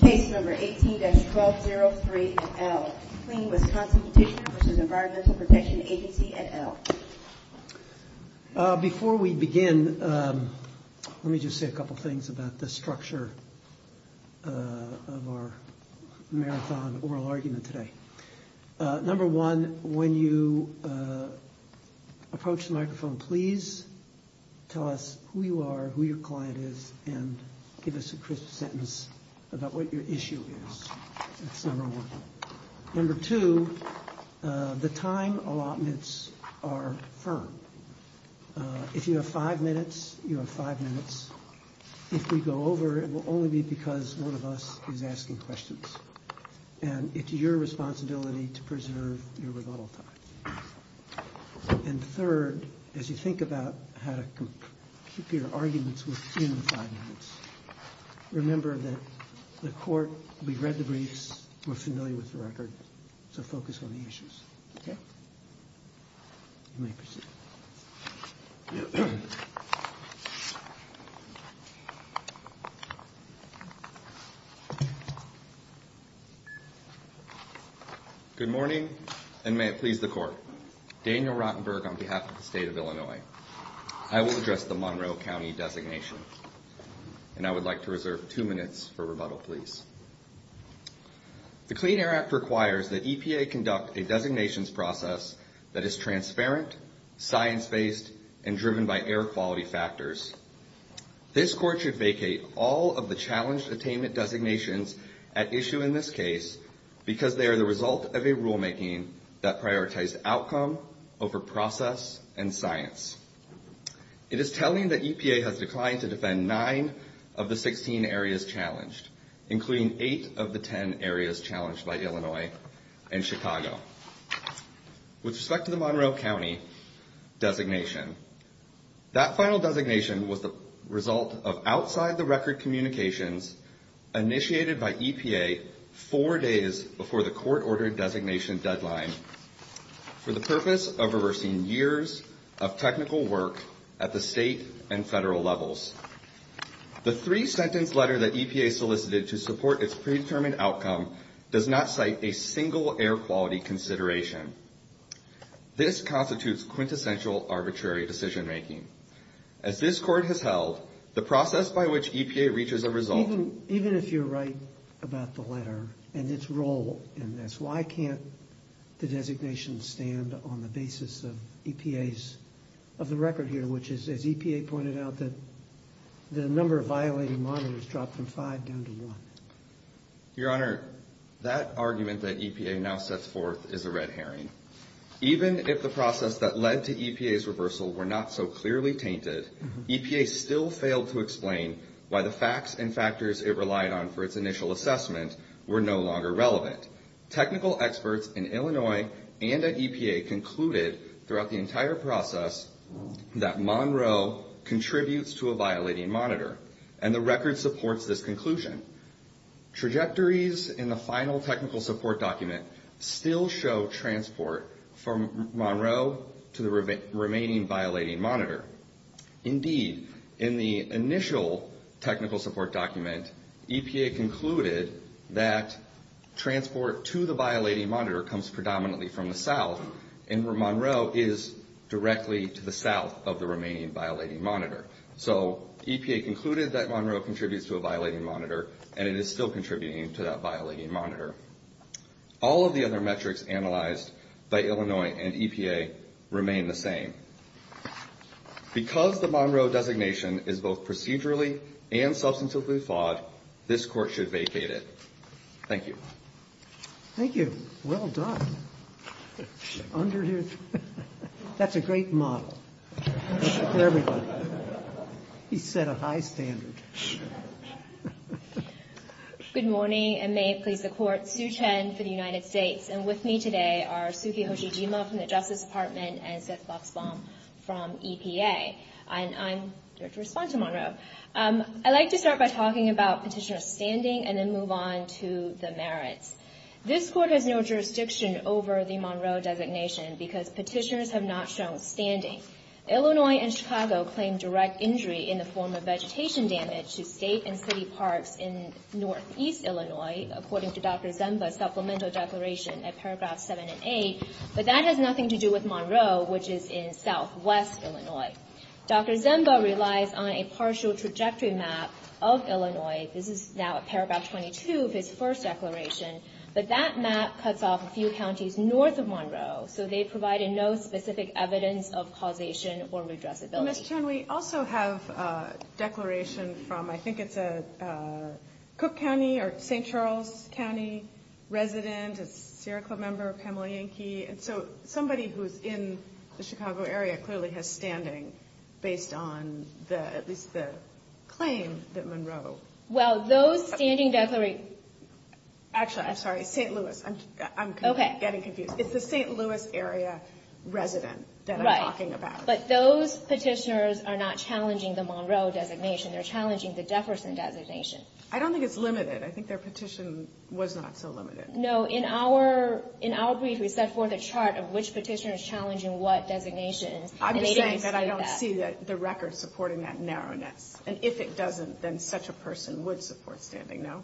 Case number 18-1203-L. Cleaning with strong complications from the Environmental Protection Agency, et al. Before we begin, let me just say a couple things about the structure of our marathon oral argument today. Number one, when you approach the microphone, please tell us who you are, who your client is, and give us a crisp sentence about what your issue is. Number two, the time allotments are firm. If you have five minutes, you have five minutes. If we go over, it will only be because one of us is asking questions, and it's your responsibility to preserve your rebuttal time. And third, as you think about how to keep your arguments within five minutes, remember that the court will be read the briefs, more familiar with the record, so focus on the issues. Next. Good morning, and may it please the court. Daniel Rottenberg on behalf of the state of Illinois. I will address the Monroe County designation, and I would like to reserve two minutes for rebuttal, please. The Clean Air Act requires that EPA conduct a designations process that is transparent, science-based, and driven by air quality factors. This court should vacate all of the challenge attainment designations at issue in this case because they are the result of a rulemaking that prioritizes outcome over process and science. It is telling that EPA has declined to defend nine of the 16 areas challenged, including eight of the 10 areas challenged by Illinois and Chicago. With respect to the Monroe County designation, that final designation was a result of outside-the-record communications initiated by EPA four days before the court-ordered designation deadline for the purpose of reversing years of technical work at the state and federal levels. The three-sentence letter that EPA solicited to support its predetermined outcome does not cite a single air quality consideration. This constitutes quintessential arbitrary decision-making. As this court has held, the process by which EPA reaches a result... designations stand on the basis of EPA's... of the record here, which is, as EPA pointed out, that the number of violated monitors dropped from five down to one. Your Honor, that argument that EPA now sets forth is a red herring. Even if the process that led to EPA's reversal were not so clearly painted, EPA still failed to explain why the facts and factors it relied on for its initial assessment were no longer relevant. Technical experts in Illinois and at EPA concluded throughout the entire process that Monroe contributes to a violating monitor, and the record supports this conclusion. Trajectories in the final technical support document still show transport from Monroe to the remaining violating monitor. Indeed, in the initial technical support document, EPA concluded that transport to the violating monitor comes predominantly from the south, and where Monroe is directly to the south of the remaining violating monitor. So EPA concluded that Monroe contributes to a violating monitor, and it is still contributing to that violating monitor. All of the other metrics analyzed by Illinois and EPA remain the same. Because the Monroe designation is both procedurally and substantively flawed, this court should vacate it. Thank you. Thank you. Well done. Under your... That's a great model. For everyone. He set a high standard. Good morning, and may it please the court. Sue Chen for the United States. And with me today are Suki Hoshijima from the Justice Department and Seth Luxbaum from EPA. And I'm here to respond to Monroe. I'd like to start by talking about petitioner standing and then move on to the merits. This court has no jurisdiction over the Monroe designation because petitioners have not shown standing. Illinois and Chicago claim direct injury in the form of vegetation damage to state and city parks in northeast Illinois, according to Dr. Zemba's supplemental declaration at paragraphs 7 and 8, but that has nothing to do with Monroe, which is in southwest Illinois. Dr. Zemba relies on a partial trajectory map of Illinois. This is now at paragraph 22 of his first declaration. So they've provided no specific evidence of causation or redressability. Ms. Chen, we also have a declaration from, I think it's a Cook County or St. Charles County resident, a Sierra Club member, Pamela Yankee. And so somebody who is in the Chicago area clearly has standing based on at least the claim that Monroe. Well, those standing declarations... Actually, I'm sorry, St. Louis. I'm getting confused. It's a St. Louis area resident that I'm talking about. But those petitioners are not challenging the Monroe designation. They're challenging the Jefferson designation. I don't think it's limited. I think their petition was not so limited. No. In our brief, we set forth a chart of which petitioner is challenging what designation. I'm just saying that I don't see the record supporting that narrowness. And if it doesn't, then such a person would support standing, no?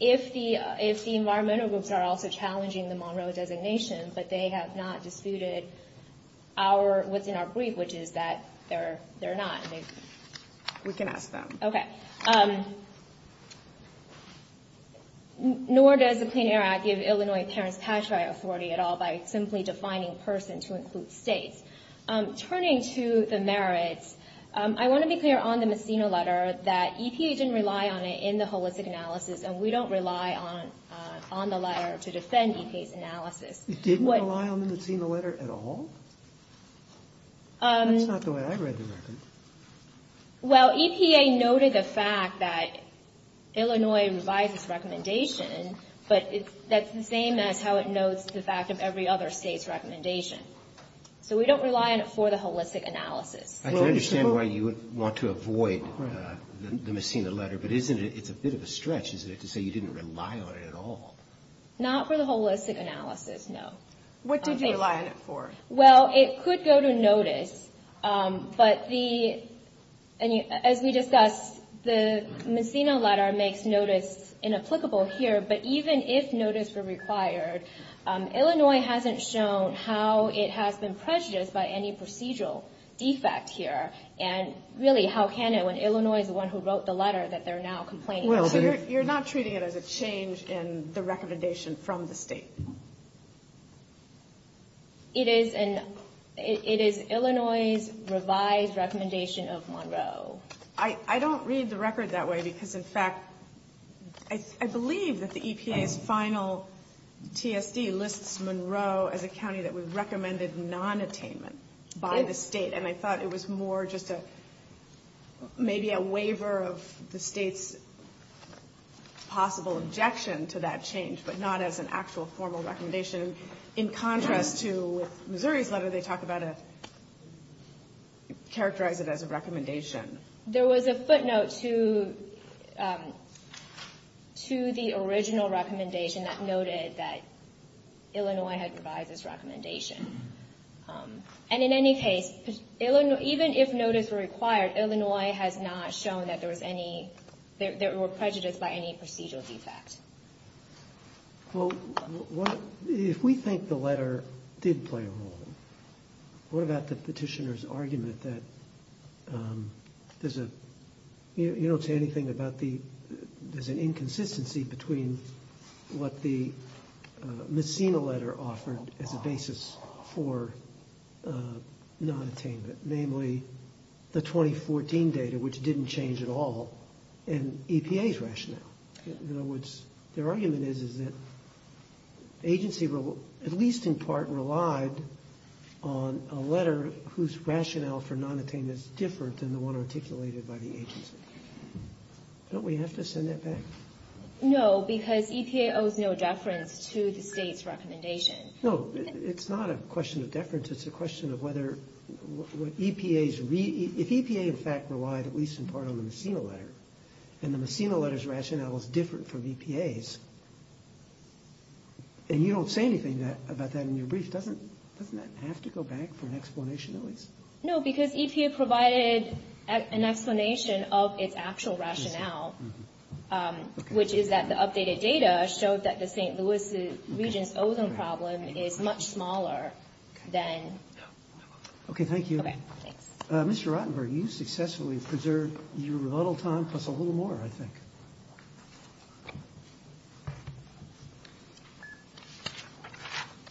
If the environmental groups are also challenging the Monroe designation, but they have not disputed what's in our brief, which is that they're not, we can ask them. Okay. Nor does the Clean Air Act give Illinois parents statutory authority at all by simply defining person to include state. Turning to the merits, I want to be clear on the Messina letter that EPA didn't rely on it in the holistic analysis, and we don't rely on the letter to defend EPA's analysis. It didn't rely on the Messina letter at all? That's not the way I read the record. Well, EPA noted the fact that Illinois revised its recommendation, but that's the same as how it notes the fact of every other state's recommendation. So we don't rely on it for the holistic analysis. I can understand why you would want to avoid the Messina letter, but it's a bit of a stretch, isn't it, to say you didn't rely on it at all? Not for the holistic analysis, no. What did you rely on it for? Well, it could go to notice, but as we discussed, the Messina letter makes notice inapplicable here, but even if notice were required, Illinois hasn't shown how it has been prejudiced by any procedural defect here, and really, how can it when Illinois is the one who wrote the letter that they're now complaining about? Well, you're not treating it as a change in the recommendation from the state. It is Illinois's revised recommendation of Monroe. I don't read the record that way because, in fact, I believe that the EPA's final TSC lists Monroe as a county that was recommended nonattainment by the state, and I thought it was more just maybe a waiver of the state's possible objection to that change, but not as an actual formal recommendation in contrast to Missouri's letter. How do they talk about it, characterize it as a recommendation? There was a footnote to the original recommendation that noted that Illinois had revised its recommendation, and in any case, even if notice were required, Illinois has not shown that there were prejudices by any procedural defect. Well, if we think the letter did play a role, what about the petitioner's argument that there's an inconsistency between what the Messina letter offered as a basis for nonattainment, namely the 2014 data, which didn't change at all, and EPA's rationale? In other words, their argument is that the agency will at least in part rely on a letter whose rationale for nonattainment is different than the one articulated by the agency. Don't we have to send that back? No, because EPA owes no deference to the state's recommendation. No, it's not a question of deference. It's a question of whether EPA's – if EPA, in fact, relied at least in part on the Messina letter and the Messina letter's rationale was different from EPA's, and you don't say anything about that in your brief, doesn't that have to go back for an explanation at least? No, because EPA provided an explanation of its actual rationale, which is that the updated data shows that the St. Louis region's ozone problem is much smaller than – Okay, thank you. Okay, thanks. Mr. Rotenberg, you successfully preserved your rebuttal time for a little more, I think.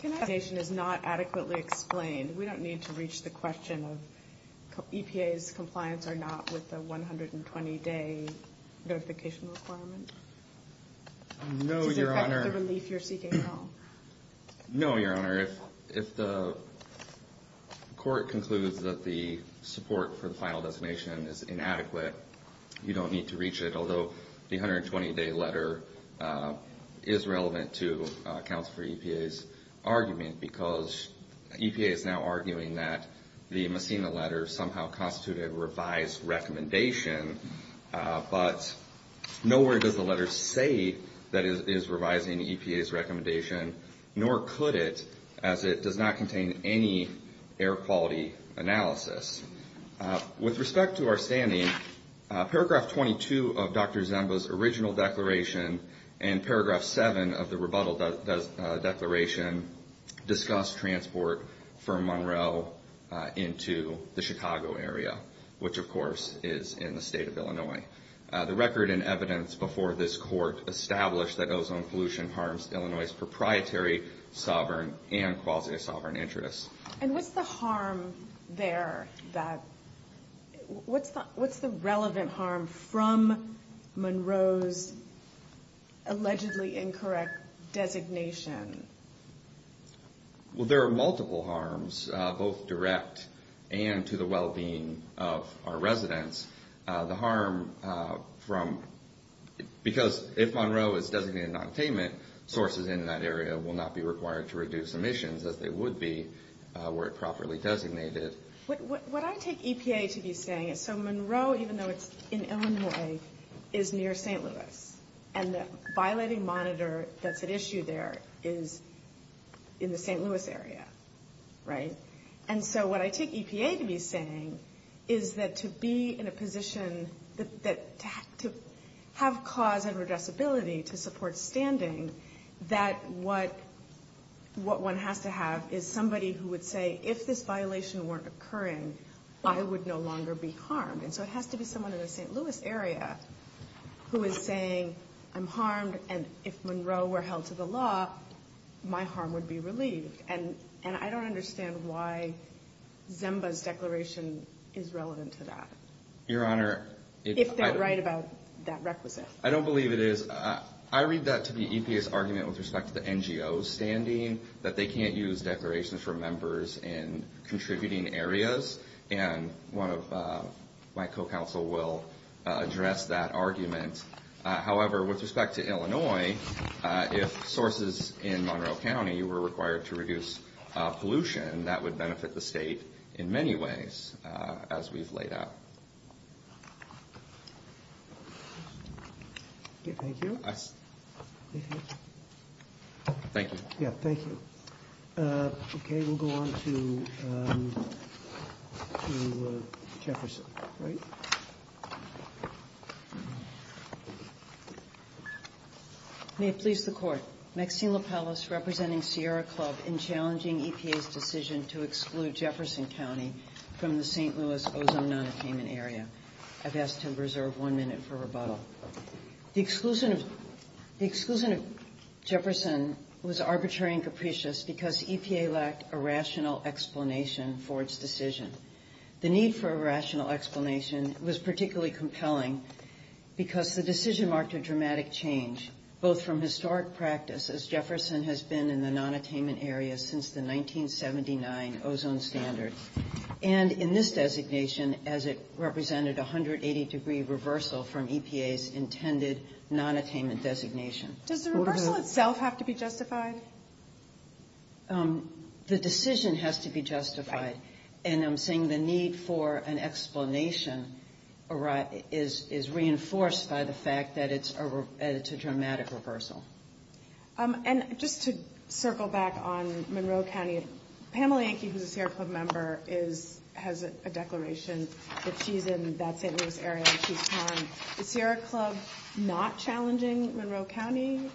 The explanation is not adequately explained. We don't need to reach the question of EPA's compliance or not with the 120-day notification requirement? No, Your Honor. No, Your Honor. If the court concludes that the support for the final destination is inadequate, you don't need to reach it, although the 120-day letter is relevant to Counselor EPA's argument, because EPA is now arguing that the Messina letter somehow constituted a revised recommendation, but nowhere does the letter say that it is revising EPA's recommendation, nor could it as it does not contain any air quality analysis. With respect to our standing, paragraph 22 of Dr. Zemba's original declaration and paragraph 7 of the rebuttal declaration discuss transport from Monroe into the Chicago area, which, of course, is in the state of Illinois. The record and evidence before this court establish that ozone pollution harms Illinois' proprietary, sovereign, and quasi-sovereign interests. And what's the harm there? What's the relevant harm from Monroe's allegedly incorrect designation? Well, there are multiple harms, both direct and to the well-being of our residents. The harm from, because if Monroe is designated non-payment, sources in that area will not be required to reduce emissions as they would be were it properly designated. What I take EPA to be saying is, so Monroe, even though it's in Illinois, is near St. Louis, and the violating monitor that's at issue there is in the St. Louis area, right? And so what I take EPA to be saying is that to be in a position to have cause and redressability to support standing, that what one has to have is somebody who would say, if this violation weren't occurring, I would no longer be harmed. And so it has to be someone in the St. Louis area who is saying, I'm harmed, and if Monroe were held to the law, my harm would be released. And I don't understand why Zimba's declaration is relevant to that. Your Honor. If they're right about that requisite. I don't believe it is. I read that to be EPA's argument with respect to the NGO's standing, that they can't use declarations from members in contributing areas. And one of my co-counsel will address that argument. However, with respect to Illinois, if sources in Monroe County were required to reduce pollution, that would benefit the state in many ways as we've laid out. Thank you. Thank you. Yeah, thank you. Okay, we'll go on to Jefferson. May it please the Court. Maxine LaPellis representing Sierra Club in challenging EPA's decision to exclude Jefferson County from the St. Louis ozone non-attainment area. I've asked to reserve one minute for rebuttal. The exclusion of Jefferson was arbitrary and capricious because EPA lacked a rational explanation for its decision. The need for a rational explanation was particularly compelling because the decision marked a dramatic change, both from historic practice, as Jefferson has been in the non-attainment area since the 1979 ozone standard, and in this designation as it represented a 180-degree reversal from EPA's intended non-attainment designation. Does the reversal itself have to be justified? The decision has to be justified. And I'm saying the need for an explanation is reinforced by the fact that it's a dramatic reversal. And just to circle back on Monroe County, Pamela Yankee, who's a Sierra Club member, has a declaration that she's in that St. Louis area. Is Sierra Club not challenging Monroe County?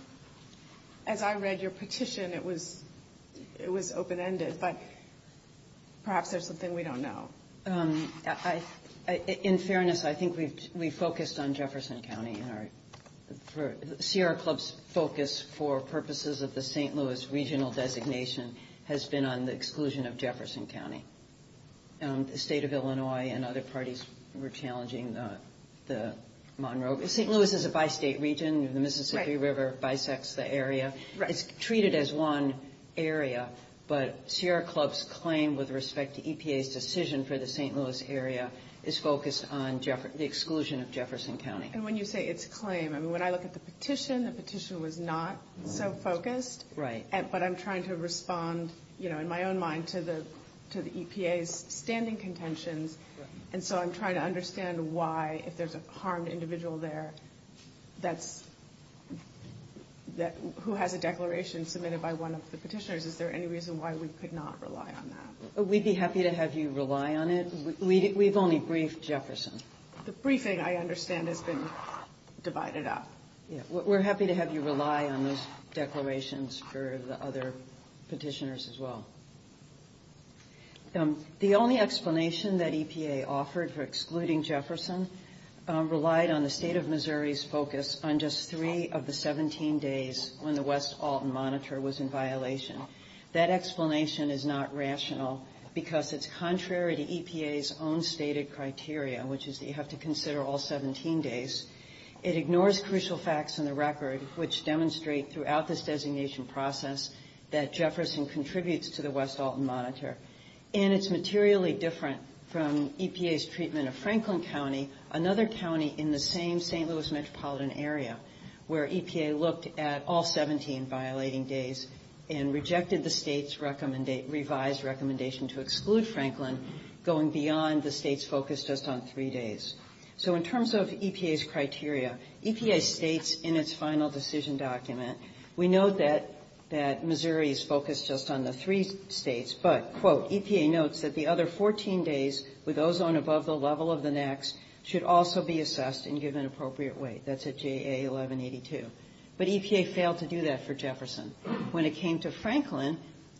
As I read your petition, it was open-ended, but perhaps there's something we don't know. In fairness, I think we focused on Jefferson County. Sierra Club's focus for purposes of the St. Louis regional designation has been on the exclusion of Jefferson County. The state of Illinois and other parties were challenging Monroe. St. Louis is a bi-state region. The Mississippi River bisects the area. It's treated as one area, but Sierra Club's claim with respect to EPA's decision for the St. Louis area is focused on the exclusion of Jefferson County. And when you say its claim, I mean, when I look at the petition, the petition was not so focused. Right. But I'm trying to respond, you know, in my own mind to the EPA's standing contention. And so I'm trying to understand why, if there's a harmed individual there that's – who has a declaration submitted by one of the petitioners, is there any reason why we could not rely on that? We'd be happy to have you rely on it. We've only briefed Jefferson. The briefing, I understand, has been divided up. Yeah. We're happy to have you rely on those declarations for the other petitioners as well. The only explanation that EPA offered for excluding Jefferson relied on the state of Missouri's focus on just three of the 17 days when the West Alton Monitor was in violation. That explanation is not rational because it's contrary to EPA's own stated criteria, which is that you have to consider all 17 days. It ignores crucial facts in the record, which demonstrate throughout this designation process that Jefferson contributes to the West Alton Monitor. And it's materially different from EPA's treatment of Franklin County, another county in the same St. Louis metropolitan area, where EPA looked at all 17 violating days and rejected the state's revised recommendation to exclude Franklin going beyond the state's focus just on three days. So in terms of EPA's criteria, EPA states in its final decision document, we know that Missouri is focused just on the three states, but, quote, EPA notes that the other 14 days with ozone above the level of the next should also be assessed and given appropriate weight. That's at JA 1182. But EPA failed to do that for Jefferson. When it came to Franklin,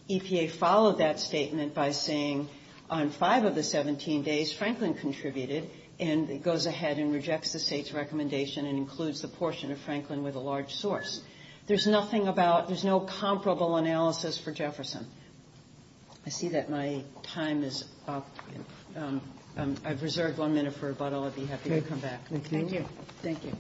EPA followed that statement by saying on five of the 17 days, Franklin contributed, and it goes ahead and rejects the state's recommendation and includes the portion of Franklin with a large source. There's nothing about, there's no comparable analysis for Jefferson. I see that my time is up. I've reserved one minute for rebuttal. I'd be happy to come back. Thank you. Thank you.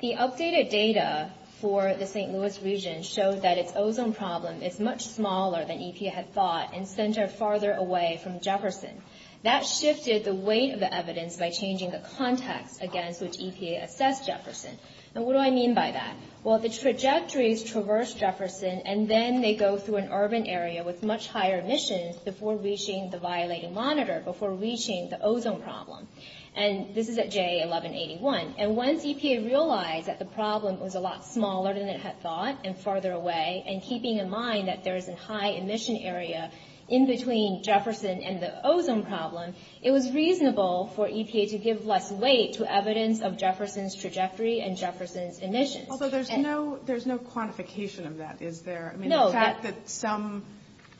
The updated data for the St. Louis region shows that its ozone problem is much smaller than EPA had thought and centered farther away from Jefferson. That shifted the weight of the evidence by changing the context, again, which EPA assessed Jefferson. Now what do I mean by that? Well, the trajectories traverse Jefferson and then may go through an urban area with much higher emissions before reaching the violated monitor, before reaching the ozone problem. And this is at JA 1181. And once EPA realized that the problem was a lot smaller than it had thought and farther away, and keeping in mind that there is a high emission area in between Jefferson and the ozone problem, it was reasonable for EPA to give less weight to evidence of Jefferson's trajectory and Jefferson's emissions. Although there's no quantification of that, is there? No. The fact that some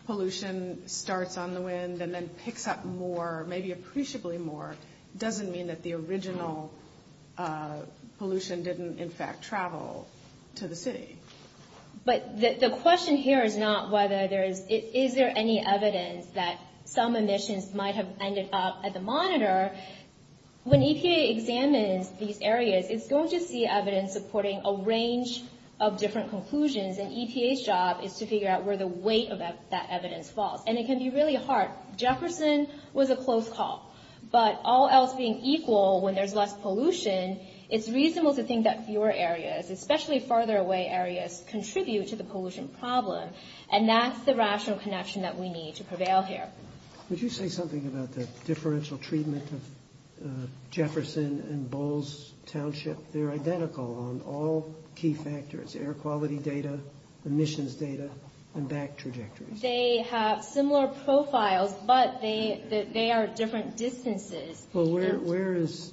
pollution starts on the wind and then picks up more, maybe appreciably more, doesn't mean that the original pollution didn't, in fact, travel to the city. But the question here is not whether there is any evidence that some emissions might have ended up at the monitor. When EPA examines these areas, it's going to see evidence supporting a range of different conclusions, and EPA's job is to figure out where the weight of that evidence falls. And it can be really hard. Jefferson was a close call. But all else being equal, when there's less pollution, it's reasonable to think that fewer areas, especially farther away areas, contribute to the pollution problem. And that's the rational connection that we need to prevail here. Would you say something about the differential treatment of Jefferson and Bowles Township? They're identical on all key factors, air quality data, emissions data, and back trajectories. They have similar profiles, but they are different distances. Well, where is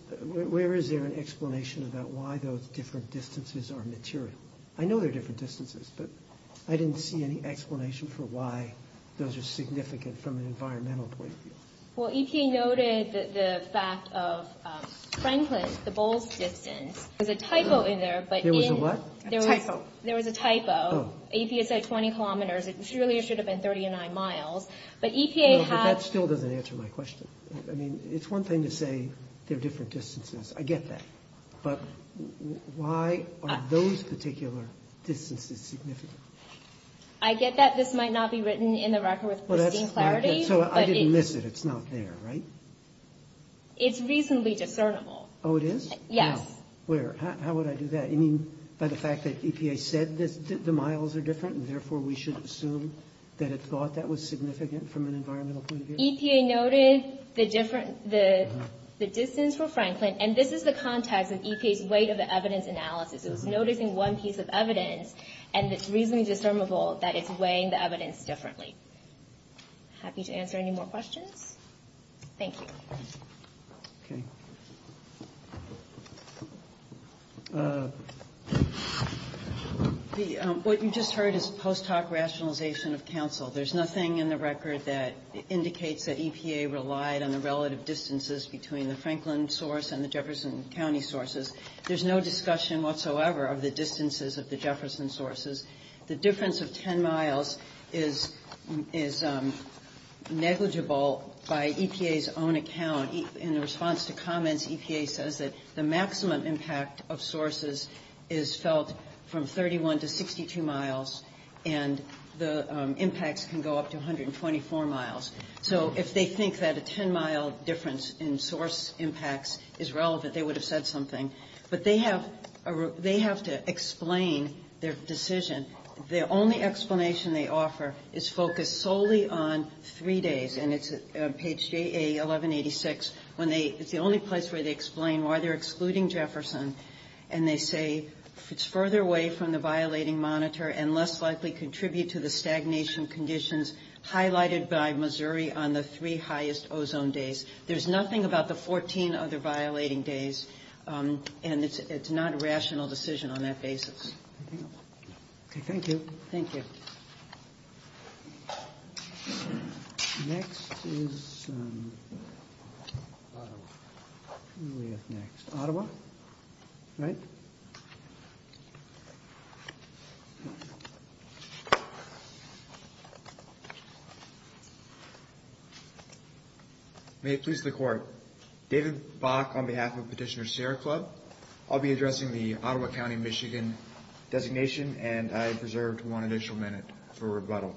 there an explanation about why those different distances are maturing? I know they're different distances, but I didn't see any explanation for why those are significant from an environmental point of view. Well, EPA noted the fact of Franklin, the Bowles distance. There was a typo in there, but in... There was a what? A typo. There was a typo. APA said 20 kilometers. It really should have been 39 miles. But EPA has... No, but that still doesn't answer my question. I mean, it's one thing to say they're different distances. I get that. But why are those particular distances significant? I get that. This might not be written in the record with leading clarity. So I didn't miss it. It's not there, right? It's reasonably discernible. Oh, it is? Yes. How would I do that? You mean by the fact that EPA said that the miles are different and therefore we should assume that it thought that was significant from an environmental point of view? EPA noted the distance for Franklin, and this is the context of EPA's weight of the evidence analysis. It was noted in one piece of evidence, and it's reasonably discernible that it's weighing the evidence differently. Happy to answer any more questions? Thank you. What you just heard is post hoc rationalization of counsel. There's nothing in the record that indicates that EPA relied on the relative distances between the Franklin source and the Jefferson County sources. There's no discussion whatsoever of the distances of the Jefferson sources. The difference of 10 miles is negligible by EPA's own account. In the response to comment, EPA says that the maximum impact of sources is felt from 31 to 62 miles, and the impacts can go up to 124 miles. So if they think that a 10-mile difference in source impacts is relevant, they would have said something. But they have to explain their decision. The only explanation they offer is focused solely on three days, and it's on page 1186. It's the only place where they explain why they're excluding Jefferson, and they say it's further away from the violating monitor and less likely contribute to the stagnation conditions highlighted by Missouri on the three highest ozone days. There's nothing about the 14 other violating days, and it's not a rational decision on that basis. Thank you. Thank you. Next is Ottawa. Who do we have next? Ottawa? All right. May it please the Court. David Bach on behalf of Petitioner Sierra Club. I'll be addressing the Ottawa County, Michigan designation, and I have reserved one additional minute for rebuttal.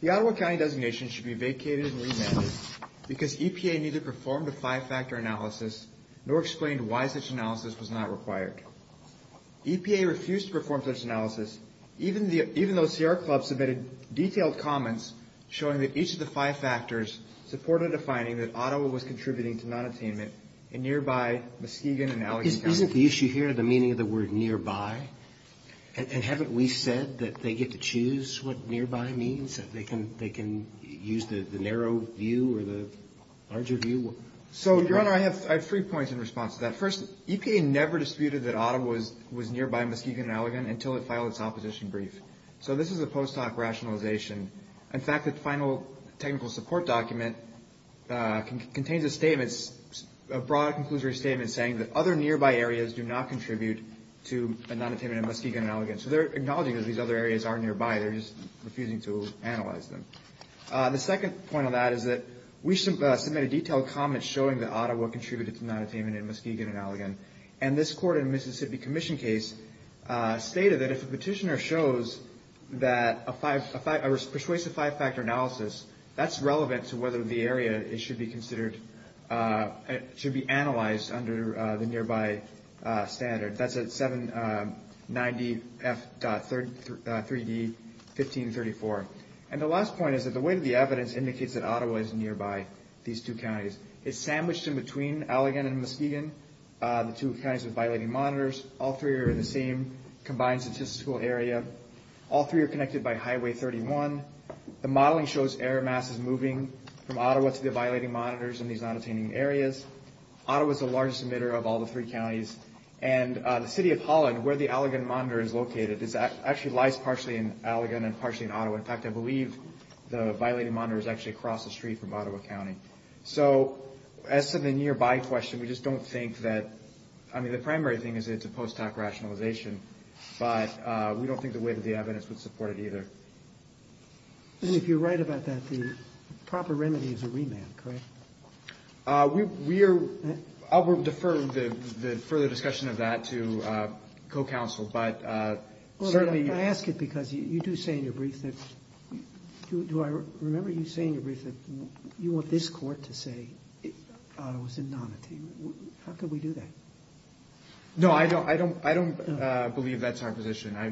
The Ottawa County designation should be vacated and renamed because EPA neither performed a five-factor analysis nor explained why such analysis was not required. EPA refused to perform such analysis, even though Sierra Club submitted detailed comments showing that each of the five factors supported a finding that Ottawa was contributing to nonattainment in nearby Muskegon and Allegan County. Isn't the issue here the meaning of the word nearby? And haven't we said that they get to choose what nearby means, that they can use the narrow view or the larger view? So, General, I have three points in response to that. First, EPA never disputed that Ottawa was nearby Muskegon and Allegan until it filed its opposition brief. So this is a post hoc rationalization. In fact, its final technical support document contains a statement, a broad conclusory statement saying that other nearby areas do not contribute to nonattainment in Muskegon and Allegan. So they're acknowledging that these other areas are nearby. They're just refusing to analyze them. The second point of that is that we should submit a detailed comment showing that Ottawa contributed to nonattainment in Muskegon and Allegan, and this court in the Mississippi Commission case stated that if a petitioner shows that a five-factor, that's relevant to whether the area should be analyzed under the nearby standard. That's at 790F.3D1534. And the last point is that the weight of the evidence indicates that Ottawa is nearby, these two counties. It's sandwiched in between Allegan and Muskegon, the two counties with violating monitors. All three are in the same combined statistical area. All three are connected by Highway 31. The modeling shows air masses moving from Ottawa to the violating monitors in these nonattaining areas. Ottawa is the largest emitter of all the three counties. And the city of Holland, where the Allegan monitor is located, actually lies partially in Allegan and partially in Ottawa. In fact, I believe the violating monitor is actually across the street from Ottawa County. So as for the nearby question, we just don't think that – I mean, the primary thing is that it's a post-hoc rationalization, but we don't think the weight of the evidence would support it either. And if you're right about that, the proper remedy is a remand, correct? We are – I'll defer the further discussion of that to co-counsel, but certainly – Well, I ask it because you do say in your brief that – do I remember you saying in your brief that you want this court to say Ottawa is in nonattainment. How could we do that? No, I don't believe that's our position. I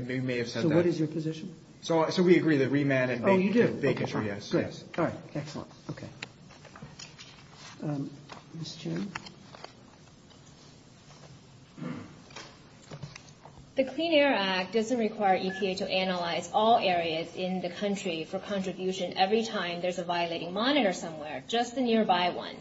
may have said that. So what is your position? So we agree that remand and – Oh, you did. Yes. All right. Okay. The Clean Air Act doesn't require EPA to analyze all areas in the country for contribution every time there's a violating monitor somewhere, just the nearby one.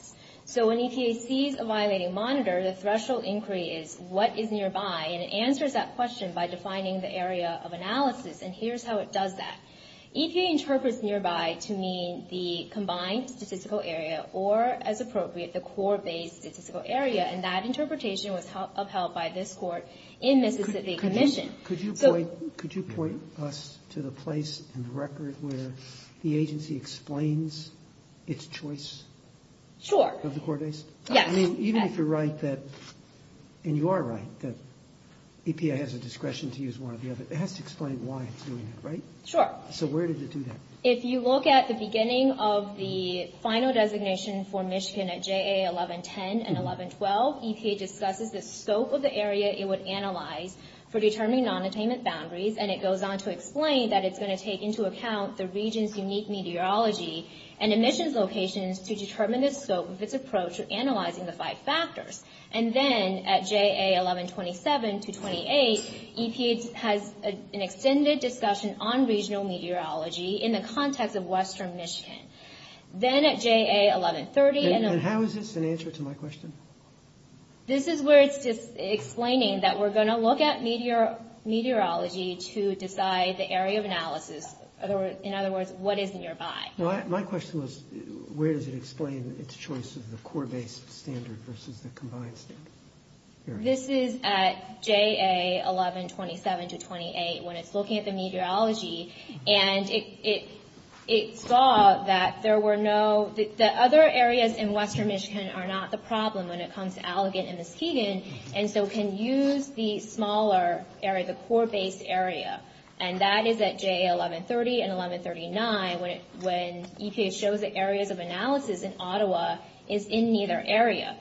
So when EPA sees a violating monitor, the threshold inquiry is what is nearby, and it answers that question by defining the area of analysis. And here's how it does that. EPA interprets nearby to mean the combined statistical area or, as appropriate, the core-based statistical area. And that interpretation was upheld by this court in the Mississippi Commission. Could you point us to the place and record where the agency explains its choice? Sure. Of the core base? Yes. Even if you're right that – and you are right that EPA has a discretion to use one or the other, it has to explain why it's doing that, right? Sure. So where does it do that? If you look at the beginning of the final designation for Michigan at JA 1110 and 1112, EPA discusses the scope of the area it would analyze for determining nonattainment boundaries, and it goes on to explain that it's going to take into account the region's unique meteorology and emissions locations to determine the scope of its approach to analyzing the five factors. And then at JA 1127 to 28, EPA has an extended discussion on regional meteorology in the context of western Michigan. Then at JA 1130 – And how is this an answer to my question? This is where it's explaining that we're going to look at meteorology to decide the area of analysis. In other words, what is nearby. My question was, where does it explain its choice of the core-based standard versus the combined standard? This is at JA 1127 to 28 when it's looking at the meteorology, and it saw that there were no – that other areas in western Michigan are not the problem when it comes to alligator and mosquito, and so can use the smaller area, the core-based area. And that is at JA 1130 and 1139 when EPA shows that areas of analysis in Ottawa is in neither area.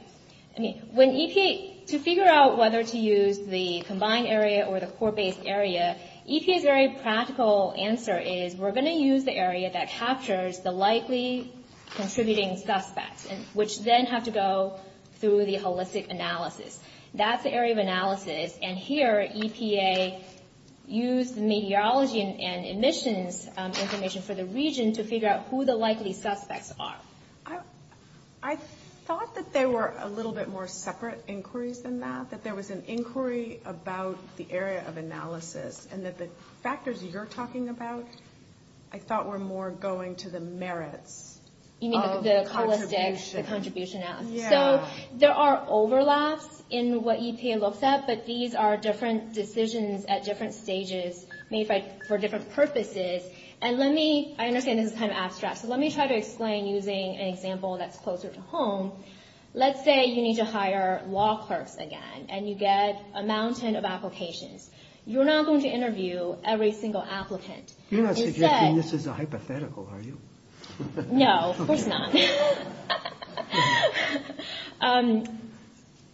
I mean, when EPA – to figure out whether to use the combined area or the core-based area, EPA's very practical answer is, we're going to use the area that captures the likely contributing suspects, which then have to go through the holistic analysis. That's the area of analysis. And here, EPA used the meteorology and emissions information for the region to figure out who the likely suspects are. I thought that there were a little bit more separate inquiries than that, that there was an inquiry about the area of analysis, and that the factors you're talking about I thought were more going to the merits of the contribution. So there are overlaps in what EPA looks at, but these are different decisions at different stages made for different purposes. And let me – and again, this is kind of abstract, so let me try to explain using an example that's closer to home. Let's say you need to hire law clerks again, and you get a mountain of applications. You're not going to interview every single applicant. You're not suggesting this is a hypothetical, are you? No, of course not.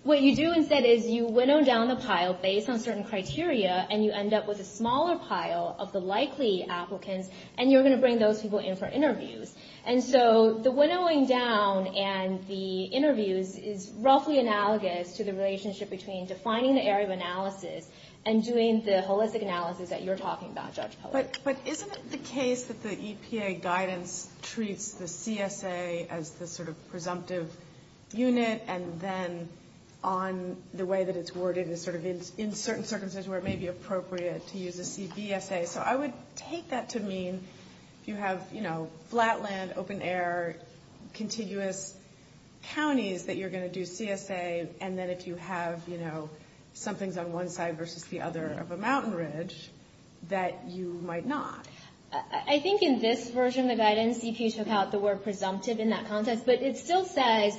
What you do instead is you winnow down the pile based on certain criteria, and you end up with a smaller pile of the likely applicants, and you're going to bring those people in for interviews. And so the winnowing down and the interviews is roughly analogous to the relationship between defining the area of analysis and doing the holistic analysis that you're talking about, Judge Pollard. But isn't it the case that the EPA guidance treats the CSA as the sort of presumptive unit, and then on the way that it's worded is sort of in certain circumstances where it may be appropriate to use the CSA? So I would take that to mean you have, you know, flatland, open air, contiguous counties that you're going to do CSA, and then if you have, you know, something's on one side versus the other of a mountain ridge, that you might not. I think in this version of that guidance, EPA took out the word presumptive in that context, but it still says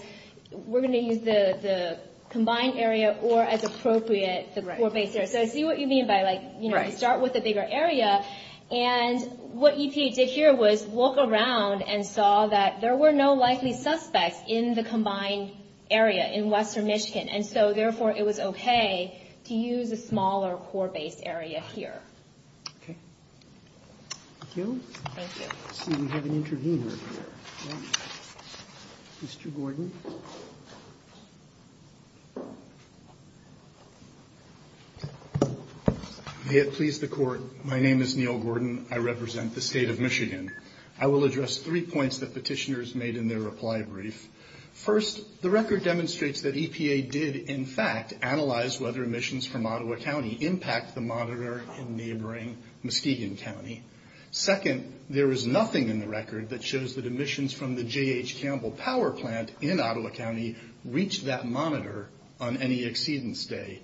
we're going to use the combined area or as appropriate. So I see what you mean by, like, you know, start with a bigger area. And what EPA did here was walk around and saw that there were no likely suspects in the combined area, in western Michigan, and so therefore it was okay to use a smaller core-based area here. Okay. Thank you. Thank you. Let's see, we have an interviewer here. Mr. Gordon. May it please the Court, my name is Neil Gordon. I represent the state of Michigan. I will address three points that petitioners made in their reply brief. First, the record demonstrates that EPA did, in fact, analyze whether emissions from Ottawa County impact the monitor in neighboring Muskegon County. Second, there is nothing in the record that shows that emissions from the J.H. Campbell Power Plant in Ottawa County reached that monitor on any exceedance day.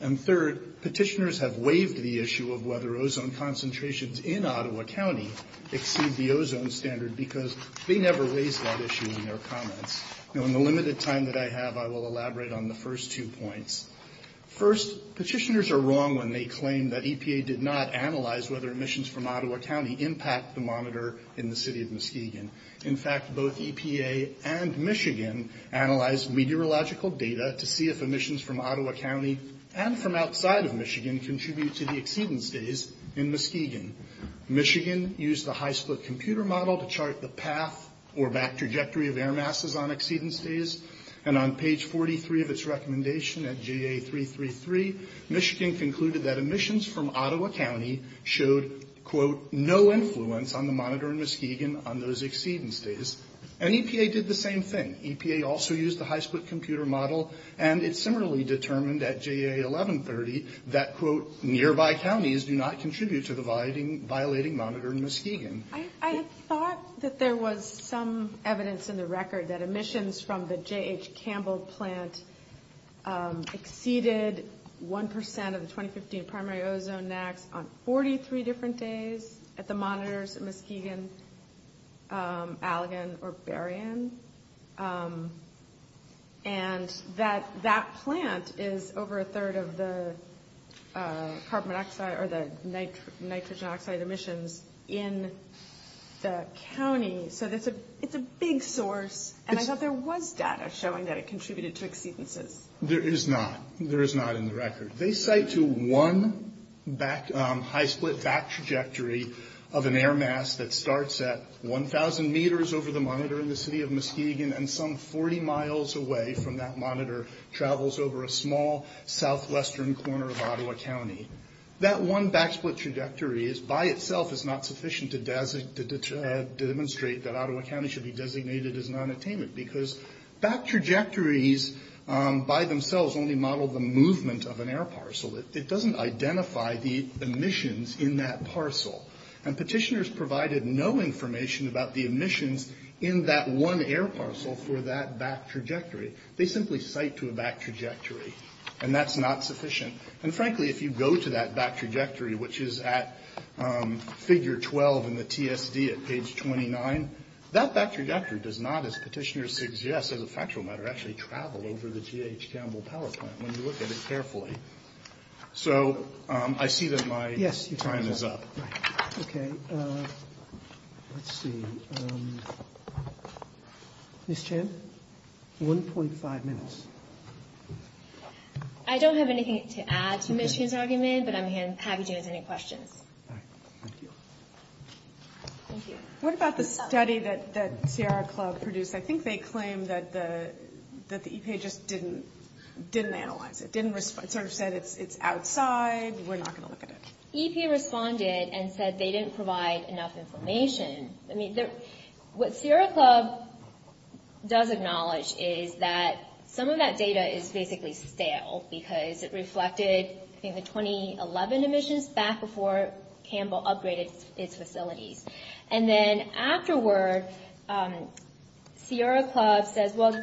And third, petitioners have waived the issue of whether ozone concentrations in Ottawa County exceed the ozone standard because they never waived that issue in their comments. In the limited time that I have, I will elaborate on the first two points. First, petitioners are wrong when they claim that EPA did not analyze whether emissions from Ottawa County impact the monitor in the city of Muskegon. In fact, both EPA and Michigan analyzed meteorological data to see if emissions from Ottawa County and from outside of Michigan contribute to the exceedance days in Muskegon. Michigan used the high-split computer model to chart the path or back trajectory of air masses on exceedance days. And on page 43 of its recommendation at JA333, Michigan concluded that emissions from Ottawa County showed, quote, no influence on the monitor in Muskegon on those exceedance days. And EPA did the same thing. EPA also used the high-split computer model, and it similarly determined at JA1130 that, quote, nearby counties do not contribute to the violating monitor in Muskegon. I thought that there was some evidence in the record that emissions from the J.H. Campbell plant exceeded 1% of the 2015 Primary Ozone Act on 43 different days at the monitors in Muskegon, Allegan, or Berrien. And that that plant is over a third of the carbon dioxide or the nitrogen oxide emissions in the county. So it's a big source, and I thought there was data showing that it contributed to exceedances. There is not. There is not in the record. They cite to one high-split back trajectory of an air mass that starts at 1,000 meters over the monitor in the city of Muskegon and some 40 miles away from that monitor travels over a small southwestern corner of Ottawa County. That one back-split trajectory by itself is not sufficient to demonstrate that Ottawa County should be designated as an unattainment because back trajectories by themselves only model the movement of an air parcel. It doesn't identify the emissions in that parcel. And petitioners provided no information about the emissions in that one air parcel for that back trajectory. They simply cite to a back trajectory, and that's not sufficient. And frankly, if you go to that back trajectory, which is at figure 12 in the TSD at page 29, that back trajectory does not, as petitioners suggest as a factual matter, actually travel over the J.H. Campbell power plant when you look at it carefully. So I see that my time is up. Okay. Let's see. Ms. Chan, 1.5 minutes. I don't have anything to add to Ms. Chan's argument, but I'm happy to answer any questions. What about the study that Sierra Club produced? I think they claimed that the EPA just didn't analyze it, sort of said it's outside, we're not going to look at it. EPA responded and said they didn't provide enough information. I mean, what Sierra Club does acknowledge is that some of that data is basically stale because it reflected in the 2011 emissions back before Campbell upgraded its facilities. And then afterwards, Sierra Club says, well,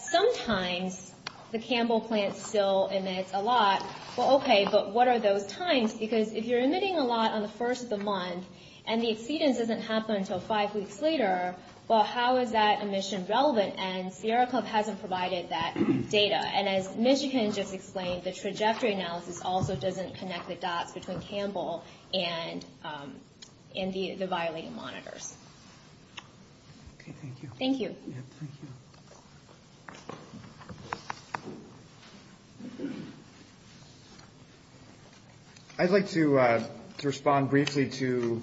sometimes the Campbell plant still emits a lot. Well, okay, but what are those times? Because if you're emitting a lot on the first of the month and the exceedance doesn't happen until five weeks later, well, how is that emission relevant? And Sierra Club hasn't provided that data. And as Ms. Chan just explained, the trajectory analysis also doesn't connect the dots between Campbell and the violated monitors. Thank you. Thank you. I'd like to respond briefly to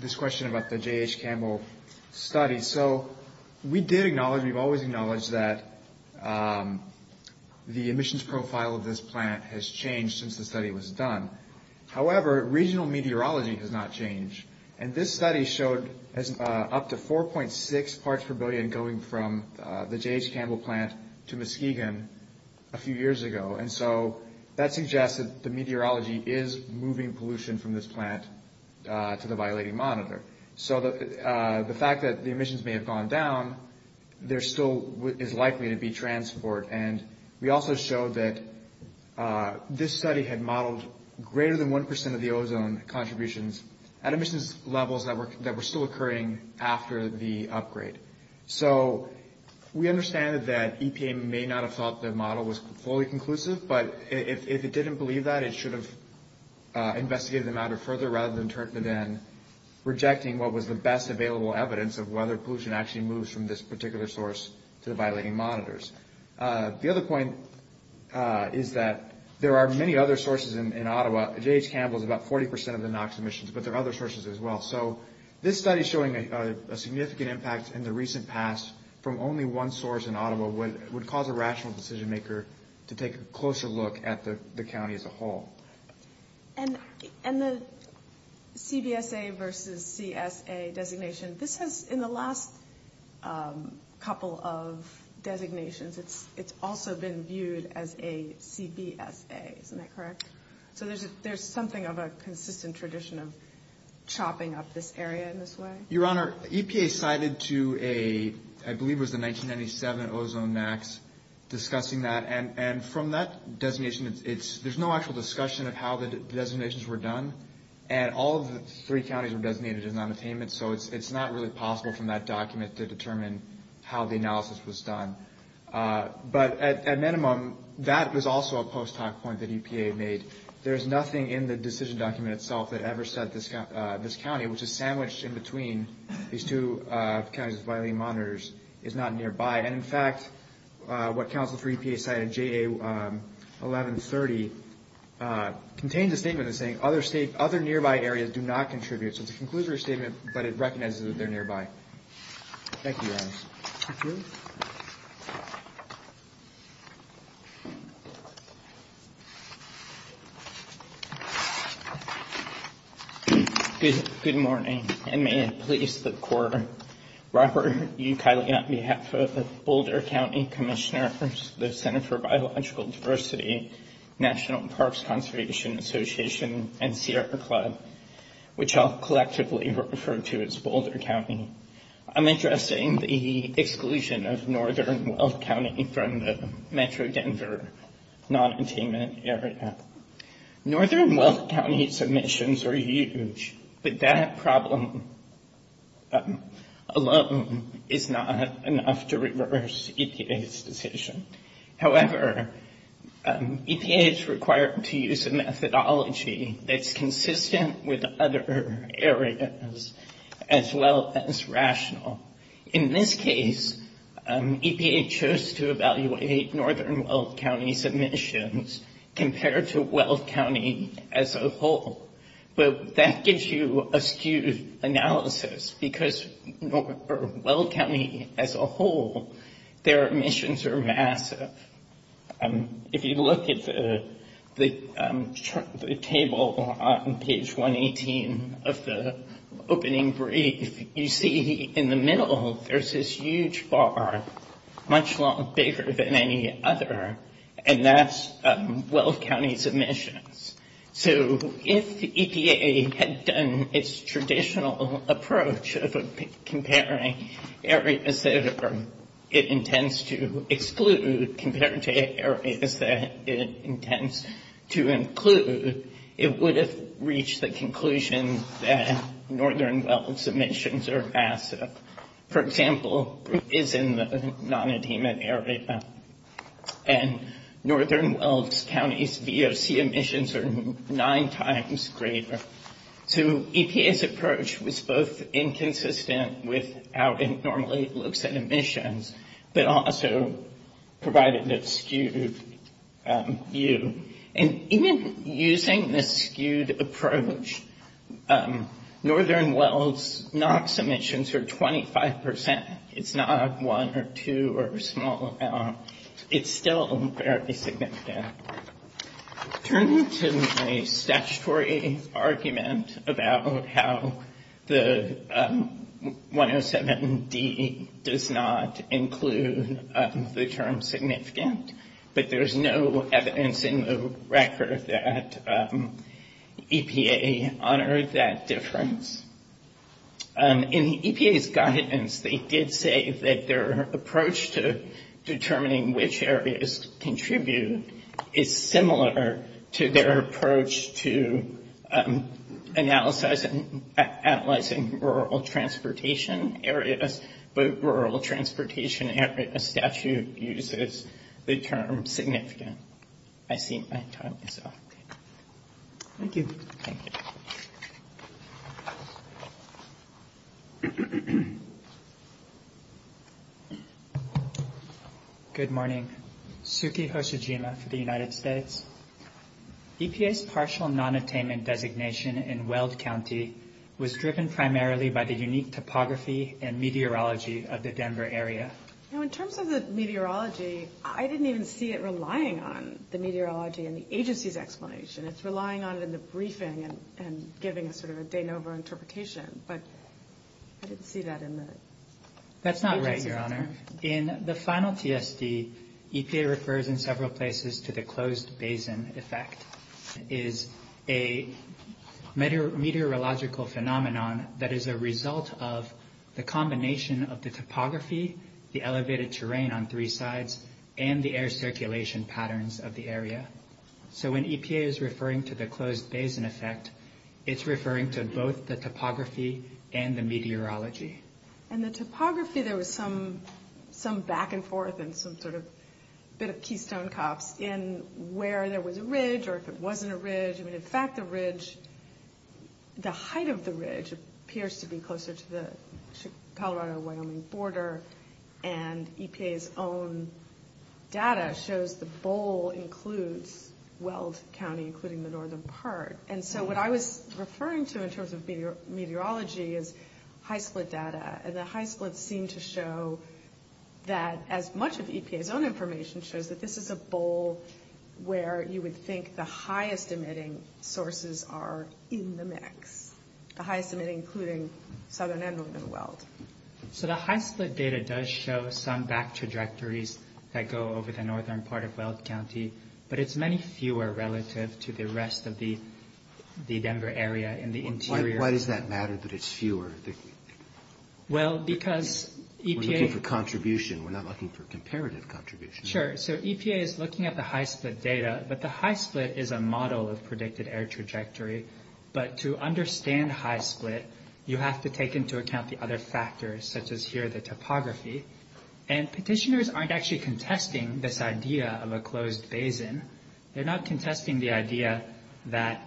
this question about the J.H. Campbell study. So we did acknowledge, we've always acknowledged that the emissions profile of this plant has changed since the study was done. However, regional meteorology has not changed. And this study showed up to 4.6 parts per billion going from the J.H. Campbell plant to Muskegon a few years ago. And so that suggests that the meteorology is moving pollution from this plant to the violating monitor. So the fact that the emissions may have gone down, there still is likely to be transport. And we also showed that this study had modeled greater than 1% of the ozone contributions at emissions levels that were still occurring after the upgrade. So we understand that EPA may not have thought the model was fully conclusive, but if it didn't believe that, it should have investigated the matter further rather than turn it in, rejecting what was the best available evidence of whether pollution actually moves from this particular source to the violating monitors. The other point is that there are many other sources in Ottawa. J.H. Campbell is about 40% of the NOx emissions, but there are other sources as well. So this study is showing a significant impact in the recent past from only one source in Ottawa would cause a rational decision-maker to take a closer look at the county as a whole. And the CBSA versus CSA designation, this has, in the last couple of designations, it's also been viewed as a CBSA, is that correct? So there's something of a consistent tradition of chopping up this area in this way? Your Honor, EPA cited to a, I believe it was a 1997 ozone max, discussing that. And from that designation, there's no actual discussion of how the designations were done. And all of the three counties were designated as non-attainment, so it's not really possible from that document to determine how the analysis was done. But at minimum, that was also a post-hoc point that EPA made. There's nothing in the decision document itself that ever said this county, which is sandwiched in between these two counties' violating monitors, is not nearby. And in fact, what counsel for EPA cited in JA1130 contains a statement that's saying other nearby areas do not contribute. So it concludes their statement, but it recommends that they're nearby. Thank you, Your Honor. Thank you. Good morning, and may it please the Court, Robert Ucali on behalf of the Boulder County Commissioner for the Center for Biological Diversity, National Parks Conservation Association, and Sierra Club, which I'll collectively refer to as Boulder County. I'm addressing the exclusion of Northern Welk County from the Metro Denver non-attainment area. Northern Welk County submissions are huge, but that problem alone is not enough to reverse EPA's decision. However, EPA is required to use a methodology that's consistent with other areas as well as rational. In this case, EPA chose to evaluate Northern Welk County submissions compared to Welk County as a whole. But that gives you a skewed analysis, because for Welk County as a whole, their emissions are massive. If you look at the table on page 118 of the opening brief, you see in the middle there's this huge bar, much bigger than any other, and that's Welk County's emissions. So if EPA had done its traditional approach of comparing areas that it intends to exclude compared to areas that it intends to include, it would have reached the conclusion that Northern Welk's emissions are massive. For example, it is in the non-attainment area, and Northern Welk County's VOC emissions are nine times greater. So EPA's approach was both inconsistent with how it normally looks at emissions, but also provided this skewed view. And even using this skewed approach, Northern Welk's non-submissions are 25%. It's not one or two or a small amount. It's still fairly significant. Turning to the statutory argument about how the 107D does not include the term significant, but there's no evidence in the record that EPA honored that difference. In EPA's guidance, they did say that their approach to determining which areas contribute is similar to their approach to analyzing rural transportation areas, but a rural transportation area statute uses the term significant. I think my phone is off. Thank you. Thank you. Good morning. Suki Hoshijima for the United States. EPA's partial non-attainment designation in Weld County was driven primarily by the unique topography and meteorology of the Denver area. Now, in terms of the meteorology, I didn't even see it relying on the meteorology in the agency's explanation. It's relying on it in the briefing and giving a sort of a de novo interpretation, but I didn't see that in the agency. That's not right, Your Honor. In the final TSD, EPA refers in several places to the closed basin effect. It is a meteorological phenomenon that is a result of the combination of the topography, the elevated terrain on three sides, and the air circulation patterns of the area. So when EPA is referring to the closed basin effect, it's referring to both the topography and the meteorology. And the topography, there was some back and forth and some sort of bit of keystone cops in where there was a ridge or if it wasn't a ridge. I mean, in fact, the ridge, the height of the ridge appears to be closer to the Palo Alto-Wyoming border, and EPA's own data shows the bowl includes Weld County, including the northern part. And so what I was referring to in terms of meteorology is high split data. And the high splits seem to show that as much as EPA's own information shows, that this is a bowl where you would think the highest emitting sources are in the mix, the highest emitting including southern and northern Weld. So the high split data does show some back trajectories that go over the northern part of Weld County, but it's many fewer relative to the rest of the Denver area in the interior. Why does that matter that it's fewer? Well, because EPA... We're looking for contribution. We're not looking for comparative contribution. Sure. So EPA is looking at the high split data, but the high split is a model of predicted air trajectory. But to understand high split, you have to take into account the other factors, such as here the topography. And petitioners aren't actually contesting this idea of a closed basin. They're not contesting the idea that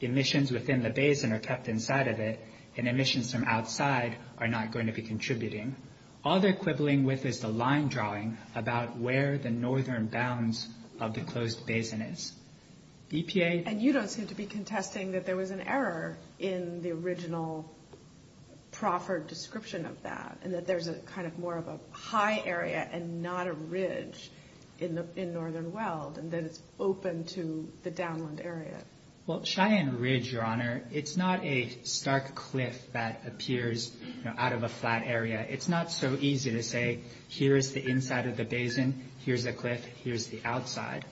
emissions within the basin are kept inside of it and emissions from outside are not going to be contributing. All they're quibbling with is the line drawing about where the northern bounds of the closed basin is. EPA... And you don't seem to be contesting that there was an error in the original proffered description of that and that there's a kind of more of a high area and not a ridge in northern Weld and then open to the downland area. Well, Cheyenne Ridge, Your Honor, it's not a stark cliff that appears out of a flat area. It's not so easy to say, here's the inside of the basin, here's the cliff, here's the outside.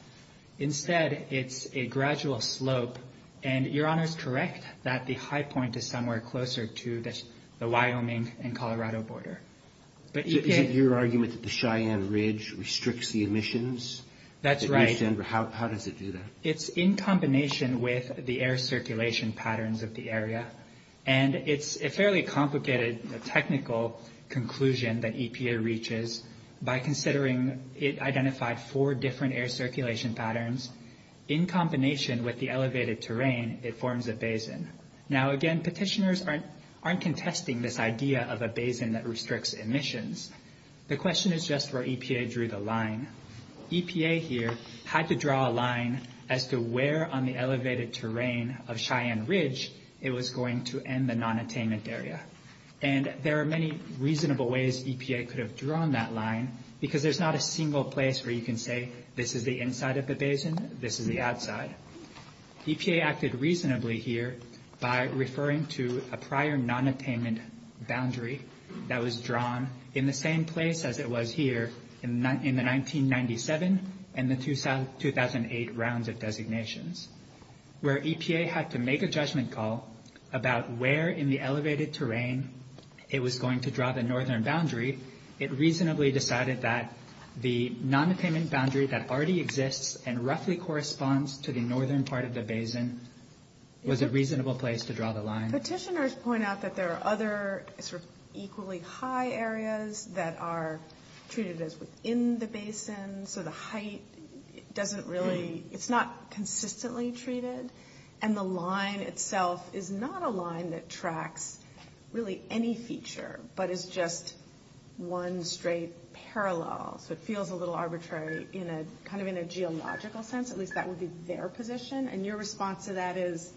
Instead, it's a gradual slope. And Your Honor is correct that the high point is somewhere closer to the Wyoming and Colorado border. Is it your argument that the Cheyenne Ridge restricts the emissions? That's right. How does it do that? It's in combination with the air circulation patterns of the area. And it's a fairly complicated technical conclusion that EPA reaches by considering it identified four different air circulation patterns in combination with the elevated terrain it forms a basin. Now, again, petitioners aren't contesting this idea of a basin that restricts emissions. The question is just where EPA drew the line. EPA here had to draw a line as to where on the elevated terrain of Cheyenne Ridge it was going to end the nonattainment area. And there are many reasonable ways EPA could have drawn that line because there's not a single place where you can say this is the inside of the basin, this is the outside. EPA acted reasonably here by referring to a prior nonattainment boundary that was drawn in the same place as it was here in the 1997 and the 2008 rounds of designations. Where EPA had to make a judgment call about where in the elevated terrain it was going to draw the northern boundary, it reasonably decided that the nonattainment boundary that already exists and roughly corresponds to the northern part of the basin was a reasonable place to draw the line. Petitioners point out that there are other sort of equally high areas that are treated as in the basin, so the height doesn't really – it's not consistently treated. And the line itself is not a line that tracks really any feature, but it's just one straight parallel, so it feels a little arbitrary in a – kind of in a geological sense, at least that would be their position. And your response to that is,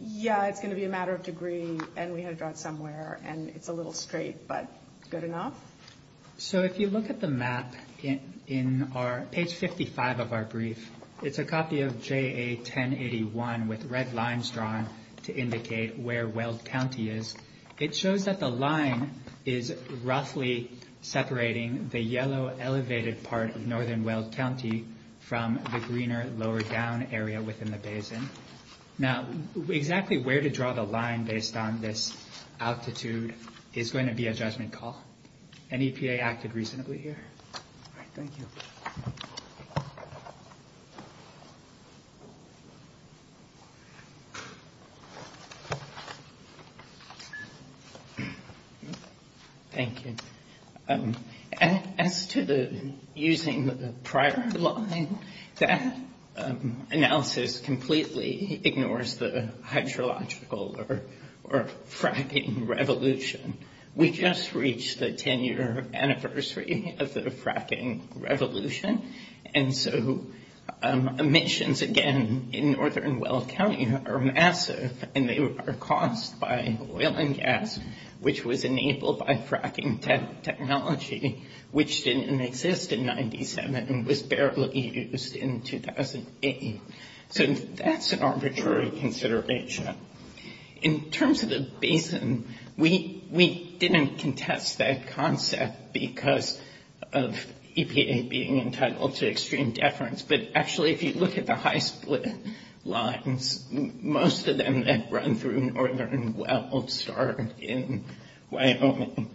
yeah, it's going to be a matter of degree, and we had to draw it somewhere, and it's a little straight, but good enough? So if you look at the map in our – page 55 of our brief, it's a copy of JA-1081 with red lines drawn to indicate where Weld County is. It shows that the line is roughly separating the yellow elevated part of northern Weld County from the greener lower down area within the basin. Now, exactly where to draw the line based on this altitude is going to be a judgment call. And EPA acted reasonably here. Thank you. Thank you. As to using the prior line, that analysis completely ignores the hydrological or fracking revolution. We just reached the 10-year anniversary of the fracking revolution, and so emissions, again, in northern Weld County are massive, and they are caused by oil and gas, which was enabled by fracking technology, which didn't exist in 97 and was barely used in 2008. So that's an arbitrary consideration. In terms of the basin, we didn't contest that concept because of EPA being entitled to extreme deference, but actually if you look at the high split lines, most of them that run through northern Weld start in Wyoming.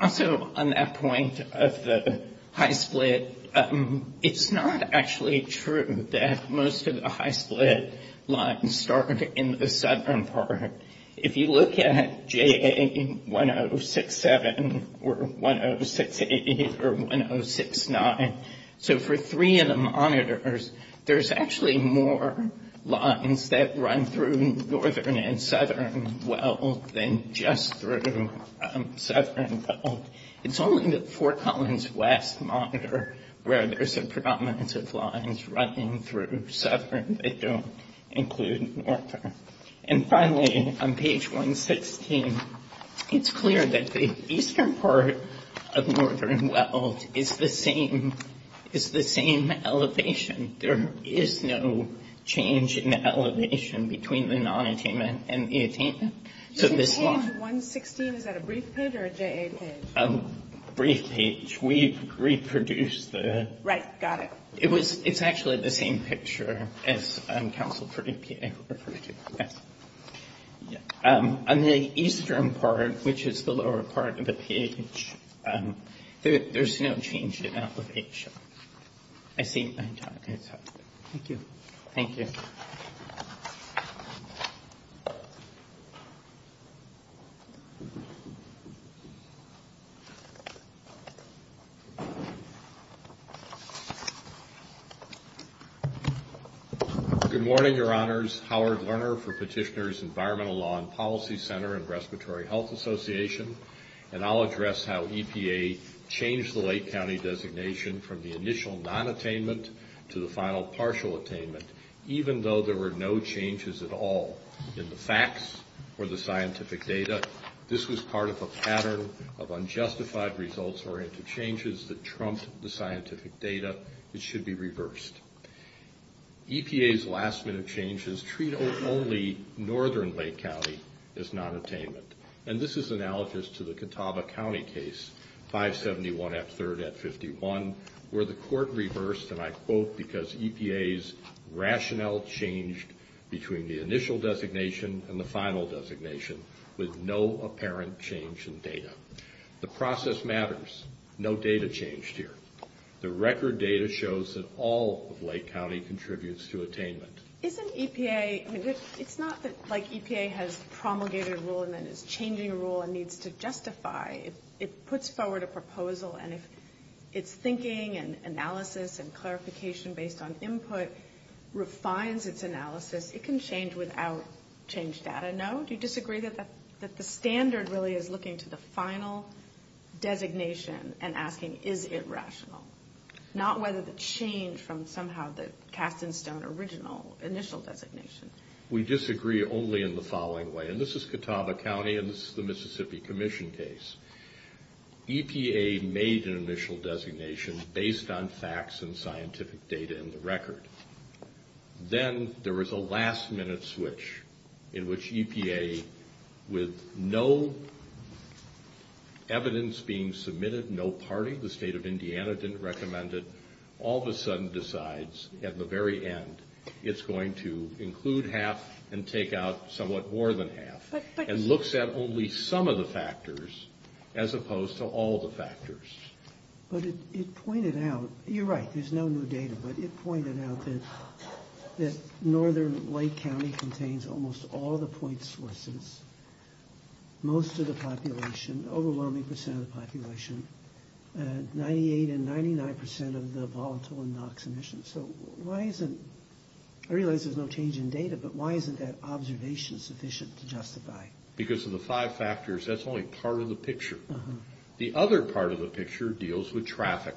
Also on that point of the high split, it's not actually true that most of the high split lines start in the southern part. If you look at JA-1067 or 1068 or 1069, so for three of the monitors, there's actually more lines that run through northern and southern Weld than just through southern Weld. It's only the Fort Collins West monitor where there's a predominance of lines running through southern that don't include northern. And finally, on page 116, it's clear that the eastern part of northern Weld is the same elevation. There is no change in elevation between the non-attainment and the attainment. So this is... 116, is that a brief page or a JA page? A brief page. We reproduced the... Right, got it. It's actually the same picture as council predicted. On the eastern part, which is the lower part of the page, there's no change in elevation. I think my job is done. Thank you. Thank you. Good morning, Your Honors. Howard Lerner for Petitioners Environmental Law and Policy Center and Respiratory Health Association, and I'll address how EPA changed the Lake County designation from the initial non-attainment to the final partial attainment, even though there were no changes at all in the facts or the scientific data. This was part of a pattern of unjustified results or interchanges that trumped the scientific data. It should be reversed. EPA's last-minute change is treat only northern Lake County as non-attainment, and this is analogous to the Catawba County case, 571 at 3rd at 51, where the court reversed, and I quote, because EPA's rationale changed between the initial designation and the final designation with no apparent change in data. The process matters. No data changed here. The record data shows that all of Lake County contributes to attainment. Isn't EPA – it's not like EPA has promulgated a rule and then is changing a rule and needs to justify. It puts forward a proposal, and its thinking and analysis and clarification based on input refines its analysis. It can change without changed data, no? Do you disagree that the standard really is looking to the final designation and asking, is it rational? Not whether the change from somehow the capstone original initial designation. We disagree only in the following way, and this is Catawba County and this is the Mississippi Commission case. EPA made an initial designation based on facts and scientific data in the record. Then there was a last-minute switch in which EPA, with no evidence being submitted, no party, the state of Indiana didn't recommend it, all of a sudden decides at the very end it's going to include half and take out somewhat more than half, and looks at only some of the factors as opposed to all the factors. But it pointed out – you're right, there's no new data, but it pointed out that Northern Lake County contains almost all the point sources, most of the population, overwhelming percent of the population, 98 and 99 percent of the volatile and NOx emissions. So why isn't – I realize there's no change in data, but why isn't that observation sufficient to justify? Because of the five factors, that's only part of the picture. The other part of the picture deals with traffic.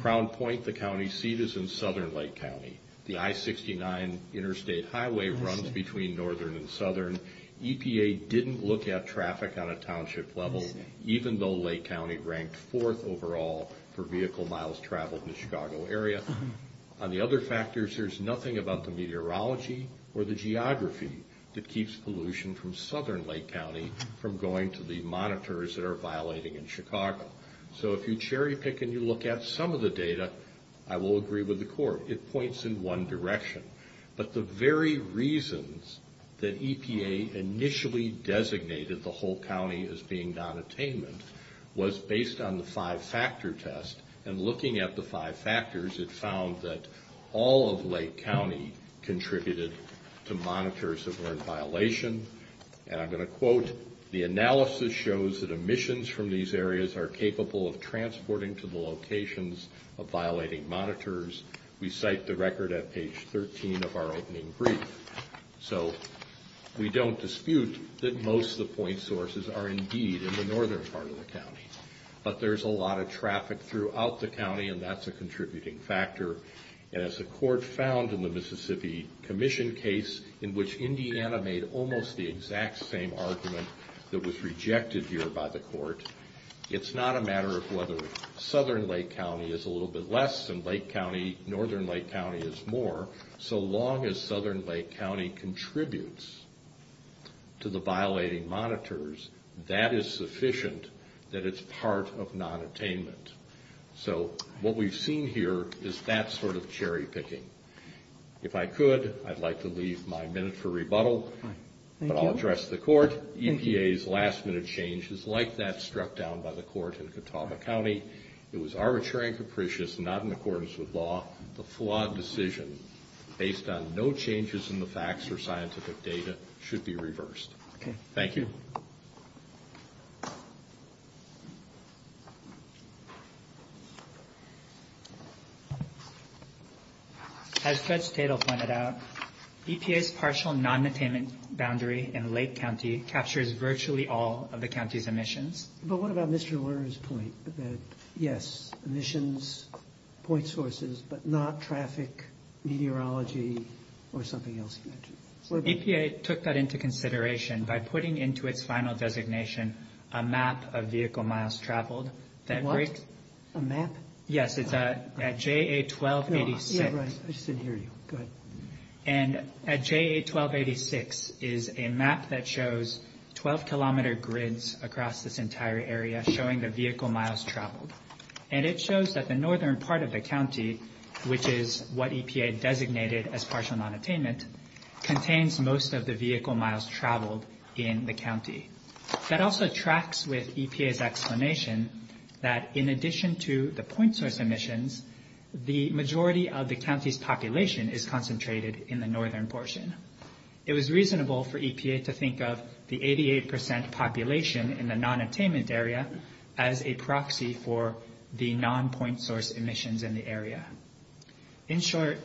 Crown Point, the county seat, is in Southern Lake County. The I-69 interstate highway runs between Northern and Southern. EPA didn't look at traffic on a township level, even though Lake County ranked fourth overall for vehicle miles traveled in the Chicago area. On the other factors, there's nothing about the meteorology or the geography that keeps pollution from Southern Lake County from going to the monitors that are violating in Chicago. So if you cherry-pick and you look at some of the data, I will agree with the court. It points in one direction. But the very reasons that EPA initially designated the whole county as being non-attainment was based on the five-factor test, and looking at the five factors, it found that all of Lake County contributed to monitors that were in violation. And I'm going to quote, the analysis shows that emissions from these areas are capable of transporting to the locations of violating monitors. We cite the record at page 13 of our opening brief. So we don't dispute that most of the point sources are indeed in the northern part of the county. But there's a lot of traffic throughout the county, and that's a contributing factor. As the court found in the Mississippi Commission case, in which Indiana made almost the exact same argument that was rejected here by the court, it's not a matter of whether Southern Lake County is a little bit less than Lake County, Northern Lake County is more. So long as Southern Lake County contributes to the violating monitors, that is sufficient that it's part of non-attainment. So what we've seen here is that sort of cherry picking. If I could, I'd like to leave my minute for rebuttal, but I'll address the court. EPA's last-minute change is like that struck down by the court in Catawba County. It was arbitrary and capricious, not in accordance with law. The flawed decision based on no changes in the facts or scientific data should be reversed. Thank you. As Judge Stadel pointed out, EPA's partial non-attainment boundary in Lake County captures virtually all of the county's emissions. But what about Mr. Lerner's point that, yes, emissions, point sources, but not traffic, meteorology, or something else? EPA took that into consideration by putting into its final designation a map of vehicle miles traveled. Is that right? A map? Yes, it's at JA1286. Yeah, right. I should hear you. Go ahead. And at JA1286 is a map that shows 12-kilometer grids across this entire area showing the vehicle miles traveled. And it shows that the northern part of the county, which is what EPA designated as partial non-attainment, contains most of the vehicle miles traveled in the county. That also tracks with EPA's explanation that in addition to the point source emissions, the majority of the county's population is concentrated in the northern portion. It was reasonable for EPA to think of the 88% population in the non-attainment area as a proxy for the non-point source emissions in the area. In short,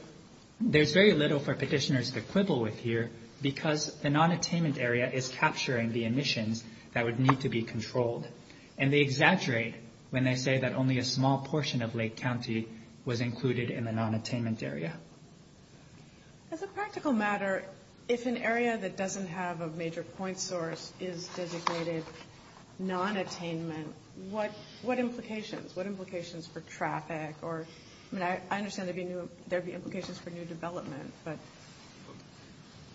there's very little for petitioners to quibble with here because the non-attainment area is capturing the emissions that would need to be controlled. And they exaggerate when they say that only a small portion of Lake County was included in the non-attainment area. As a practical matter, if an area that doesn't have a major point source is designated non-attainment, what implications? What implications for traffic? I mean, I understand there would be implications for new development.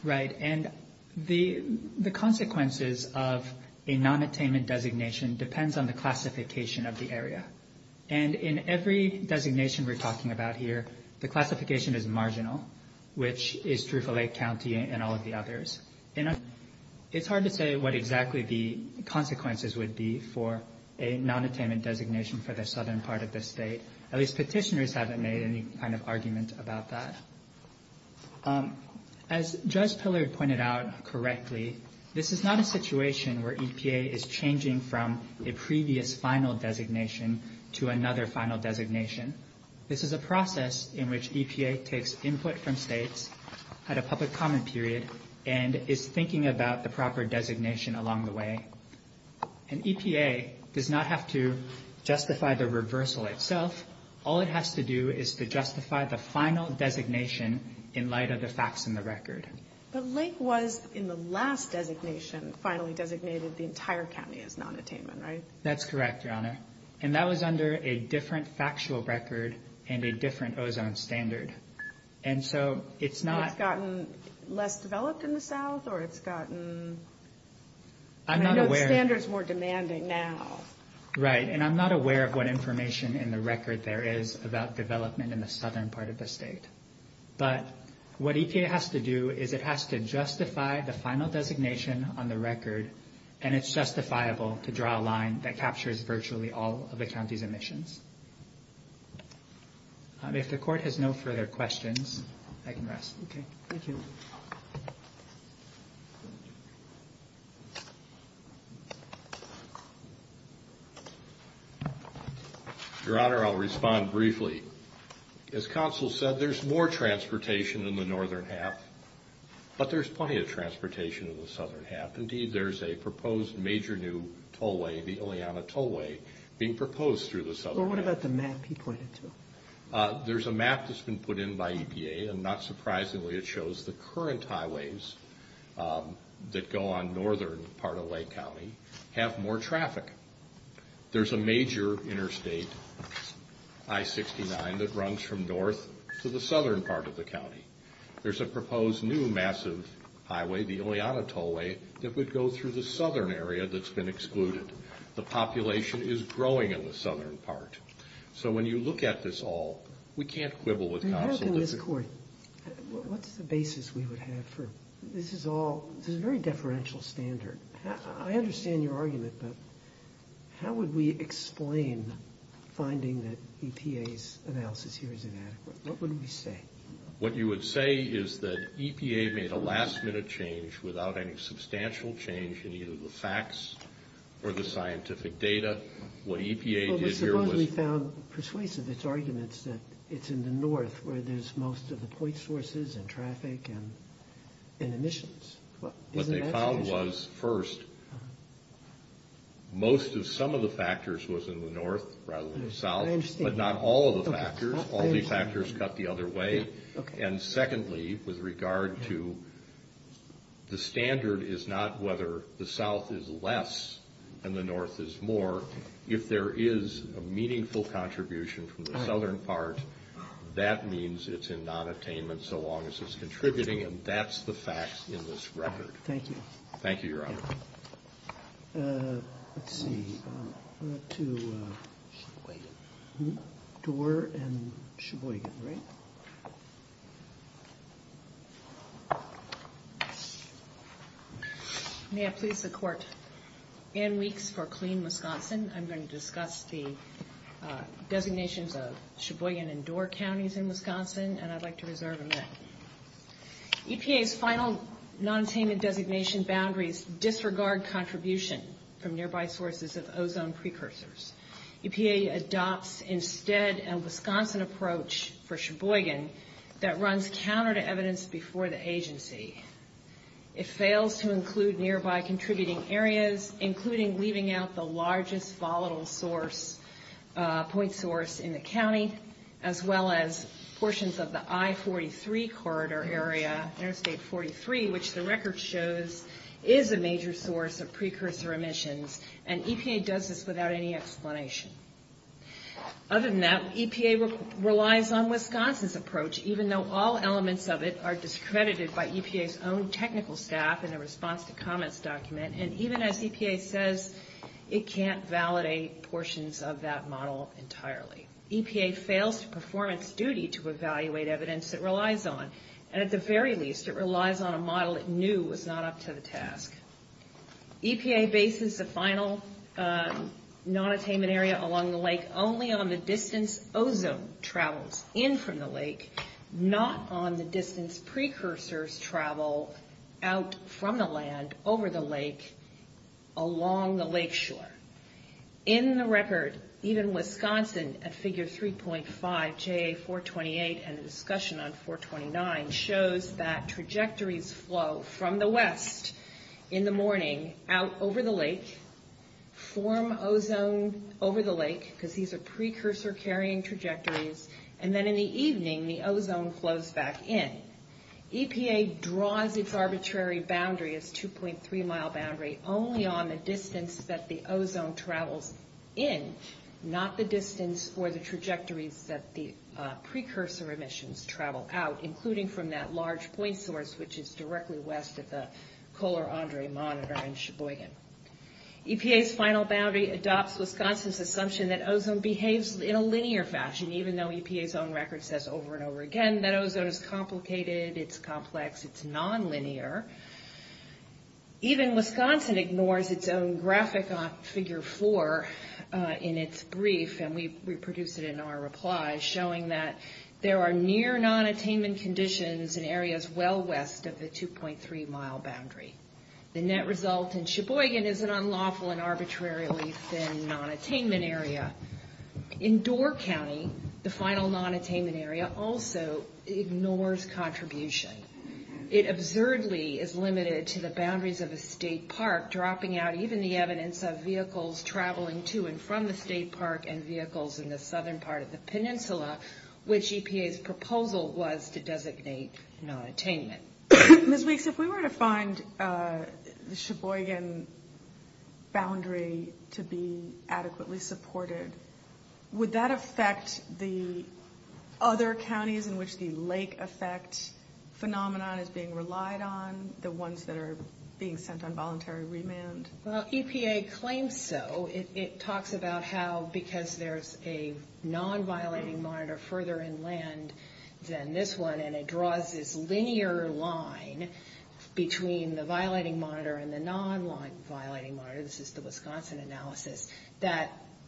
Right, and the consequences of a non-attainment designation depends on the classification of the area. And in every designation we're talking about here, the classification is marginal, which is true for Lake County and all of the others. And it's hard to say what exactly the consequences would be for a non-attainment designation for the southern part of the state. At least petitioners haven't made any kind of argument about that. As Judge Pillard pointed out correctly, this is not a situation where EPA is changing from a previous final designation to another final designation. This is a process in which EPA takes input from states at a public comment period and is thinking about the proper designation along the way. And EPA does not have to justify the reversal itself. All it has to do is to justify the final designation in light of the facts in the record. But Lake was, in the last designation, finally designated the entire county as non-attainment, right? That's correct, Your Honor. And that was under a different factual record and a different ozone standard. And so it's not... It's gotten less developed in the south or it's gotten... I'm not aware... Standards more demanding now. Right, and I'm not aware of what information in the record there is about development in the southern part of the state. But what EPA has to do is it has to justify the final designation on the record, and it's justifiable to draw a line that captures virtually all of the county's emissions. If the Court has no further questions, I can rest. Okay. Thank you. Your Honor, I'll respond briefly. As counsel said, there's more transportation in the northern half, but there's plenty of transportation in the southern half. Indeed, there's a proposed major new tollway, the Ileana Tollway, being proposed through the southern half. What about the map you pointed to? There's a map that's been put in by EPA, and not surprisingly it shows the current highways that go on northern part of Lake County have more traffic. There's a major interstate, I-69, that runs from north to the southern part of the county. There's a proposed new massive highway, the Ileana Tollway, that would go through the southern area that's been excluded. The population is growing in the southern part. So when you look at this all, we can't quibble with counsel. Your Honor, in this court, what's the basis we would have for this is all, this is a very deferential standard. I understand your argument, but how would we explain finding that EPA's analysis here is inadequate? What would we say? What you would say is that EPA made a last-minute change without any substantial change in either the facts or the scientific data. What EPA did here was— But we found persuasive its arguments that it's in the north where there's most of the point sources and traffic and emissions. What they found was, first, most of some of the factors was in the north rather than the south, but not all of the factors. All the factors cut the other way. And secondly, with regard to the standard is not whether the south is less and the north is more. If there is a meaningful contribution from the southern part, that means it's in nonattainment so long as it's contributing, and that's the facts in this record. Thank you. Thank you, Your Honor. Let's see. To Doerr and Sheboygan, right? May I please the Court? Ann Reeks for Clean Wisconsin. I'm going to discuss the designations of Sheboygan and Doerr counties in Wisconsin, and I'd like to reserve a minute. EPA's final nonattainment designation boundaries disregard contribution from nearby sources of ozone precursors. EPA adopts instead a Wisconsin approach for Sheboygan that runs counter to evidence before the agency. It fails to include nearby contributing areas, as well as portions of the I-43 corridor area, Interstate 43, which the record shows is a major source of precursor emissions, and EPA does this without any explanation. Other than that, EPA relies on Wisconsin's approach, even though all elements of it are discredited by EPA's own technical staff in the response to comments document, and even as EPA says it can't validate portions of that model entirely. EPA fails to perform its duty to evaluate evidence it relies on, and at the very least, it relies on a model it knew was not up to the task. EPA bases the final nonattainment area along the lake only on the distance ozone travels in from the lake, not on the distance precursors travel out from the land, over the lake, along the lakeshore. In the record, even Wisconsin at figure 3.5 JA-428 and the discussion on 429 shows that trajectories flow from the west in the morning out over the lake, form ozone over the lake, because these are precursor carrying trajectories, and then in the evening, the ozone flows back in. EPA draws its arbitrary boundary, its 2.3 mile boundary, only on the distance that the ozone travels in, not the distance for the trajectories that the precursor emissions travel out, including from that large point source, which is directly west of the Kohler-Andre Monitor in Sheboygan. EPA's final boundary adopts Wisconsin's assumption that ozone behaves in a linear fashion, even though EPA's own record says over and over again that ozone is complicated, it's complex, it's nonlinear. Even Wisconsin ignores its own graphic on figure 4 in its brief, and we produced it in our reply, showing that there are near nonattainment conditions in areas well west of the 2.3 mile boundary. The net result in Sheboygan is an unlawful and arbitrarily thin nonattainment area. In Door County, the final nonattainment area also ignores contribution. It absurdly is limited to the boundaries of a state park, dropping out even the evidence of vehicles traveling to and from the state park and vehicles in the southern part of the peninsula, which EPA's proposal was to designate nonattainment. Ms. Weeks, if we were to find the Sheboygan boundary to be adequately supported, would that affect the other counties in which the lake effect phenomena is being relied on, the ones that are being sent on voluntary remand? Well, EPA claims so. It talks about how because there's a non-violating monitor further inland than this one, and it draws this linear line between the violating monitor and the non-violating monitor, this is the Wisconsin analysis,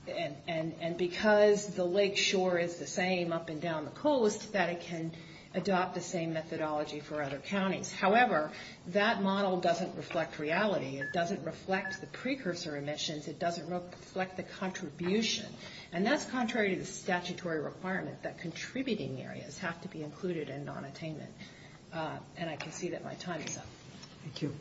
and because the lake shore is the same up and down the coast, that it can adopt the same methodology for other counties. However, that model doesn't reflect reality. It doesn't reflect the precursor emissions. It doesn't reflect the contribution. And that's contrary to statutory requirements that contributing areas have to be included in nonattainment. And I can see that my time is up. Thank you.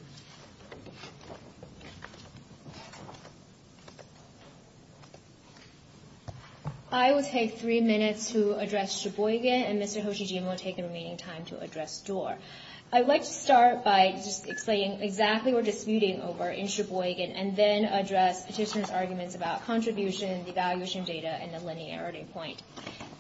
I will take three minutes to address Sheboygan, and Mr. Hoshijin will take the remaining time to address Doar. I'd like to start by explaining exactly what we're disputing over in Sheboygan and then address Petitioner's arguments about contributions, evaluation data, and the linearity point.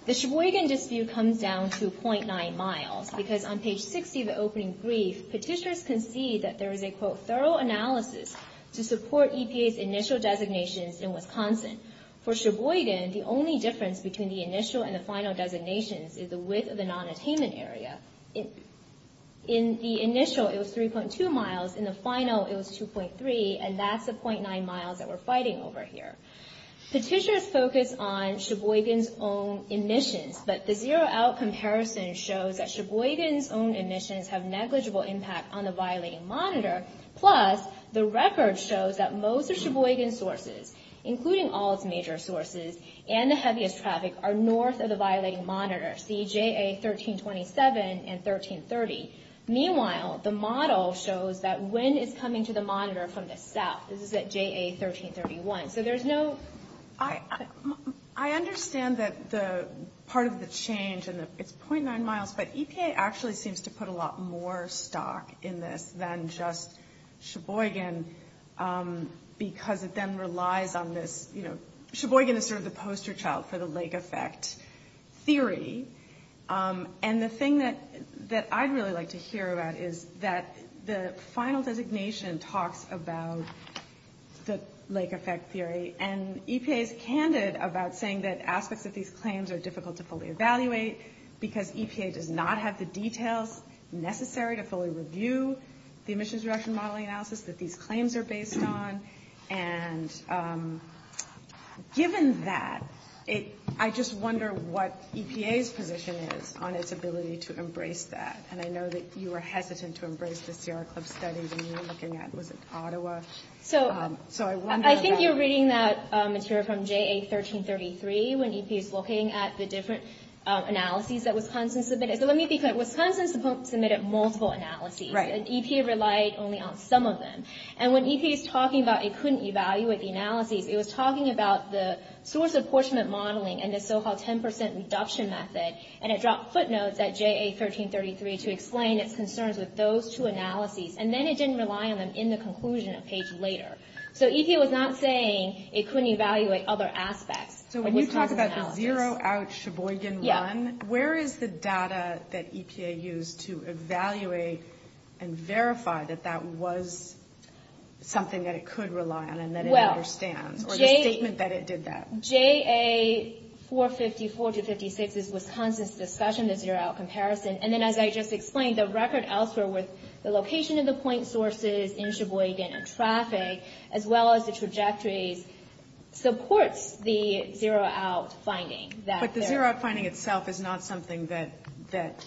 The Sheboygan dispute comes down to 0.9 miles, because on page 60 of the opening brief, Petitioner's concedes that there is a, quote, thorough analysis to support EPA's initial designations in Wisconsin. For Sheboygan, the only difference between the initial and the final designations is the width of the nonattainment area. In the initial, it was 3.2 miles. In the final, it was 2.3, and that's the 0.9 miles that we're fighting over here. Petitioner's focused on Sheboygan's own emissions, but the zero-out comparison shows that Sheboygan's own emissions have negligible impact on the violating monitor, plus the record shows that most of Sheboygan's sources, including all its major sources, and the heaviest traffic are north of the violating monitor, see JA 1327 and 1330. Meanwhile, the model shows that wind is coming to the monitor from the south. This is at JA 1331. I understand that part of the change, and it's 0.9 miles, but EPA actually seems to put a lot more stock in this than just Sheboygan because it then relies on this, you know. Sheboygan is sort of the poster child for the lake effect theory, and the thing that I'd really like to hear about is that the final designation talks about the lake effect theory, and EPA is candid about saying that aspects of these claims are difficult to fully evaluate because EPA does not have the details necessary to fully review the emissions direction modeling analysis that these claims are based on, and given that, I just wonder what EPA's position is on its ability to embrace that, and I know that you were hesitant to embrace the Sierra Club study when you were looking at, was it Ottawa? I think you're reading that material from JA 1333 when you keep looking at the different analyses that Wisconsin submitted, so let me think about it. Wisconsin submitted multiple analyses, and EPA relied only on some of them, and when EPA was talking about it couldn't evaluate the analyses, it was talking about the source apportionment modeling and the so-called 10% induction method, and it dropped footnotes at JA 1333 to explain its concerns with those two analyses, and then it didn't rely on them in the conclusion page later. So EPA was not saying it couldn't evaluate other aspects. So when you talk about the zero out Sheboygan run, where is the data that EPA used to evaluate and verify that that was something that it could rely on and that it understands, or the statement that it did that? JA 454 to 56 is Wisconsin's discussion of zero out comparison, and then as I just explained, the record elsewhere with the location of the point sources in Sheboygan and traffic as well as the trajectory supports the zero out finding. But the zero out finding itself is not something that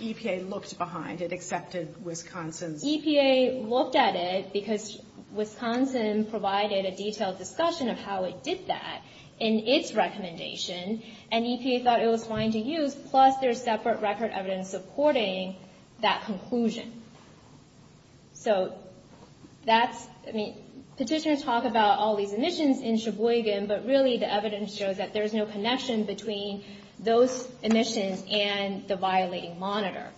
EPA looked behind. It accepted Wisconsin's... EPA looked at it because Wisconsin provided a detailed discussion of how it did that in its recommendation, and EPA thought it was fine to use, plus there's separate record evidence supporting that conclusion. So that's, I mean, petitioners talk about all these omissions in Sheboygan, but really the evidence shows that there's no connection between those omissions and the violating monitor.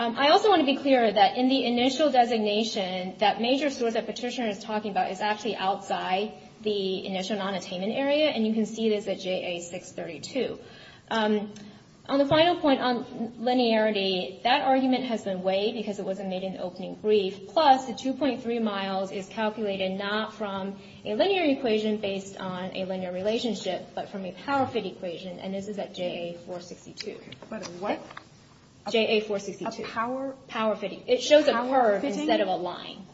I also want to be clear that in the initial designation, that major source that Petitioner is talking about is actually outside the initial nonattainment area, and you can see this at JA 632. On the final point on linearity, that argument has been weighed because it wasn't made an opening brief, plus the 2.3 miles is calculated not from a linear equation based on a linear relationship, but from a power fit equation, and this is at JA 462. What? JA 462. Okay, power? Power fitting. It shows a curve instead of a line.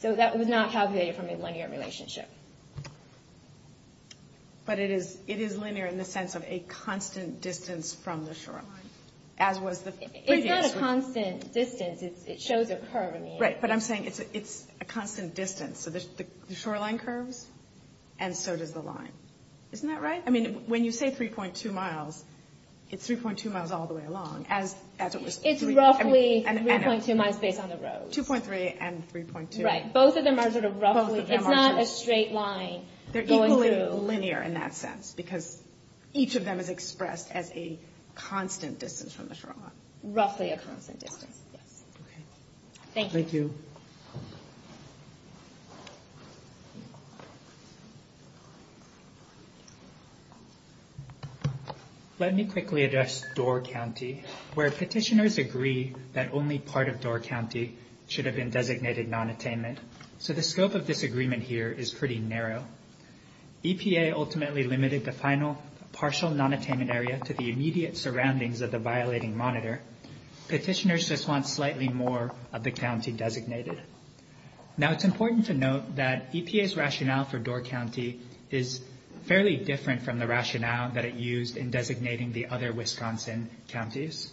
So that was not calculated from a linear relationship. But it is linear in the sense of a constant distance from the shoreline, as was the... It's not a constant distance. It shows a curve. Right, but I'm saying it's a constant distance. So there's the shoreline curve, and so does the line. Isn't that right? I mean, when you say 3.2 miles, it's 3.2 miles all the way along. It's roughly 3.2 miles based on the road. 2.3 and 3.2. Right. Both of them are sort of roughly... It's not a straight line. They're equally linear in that sense, because each of them is expressed as a constant distance from the shoreline. Roughly a constant distance, yes. Okay. Thank you. Thank you. Let me quickly address Door County, where petitioners agree that only part of Door County should have been designated non-attainment. So the scope of disagreement here is pretty narrow. EPA ultimately limited the final partial non-attainment area to the immediate surroundings of the violating monitor. Petitioners just want slightly more of the county designated. Now, it's important to note that EPA's rationale for Door County is fairly different from the rationale that it used in designating the other Wisconsin counties.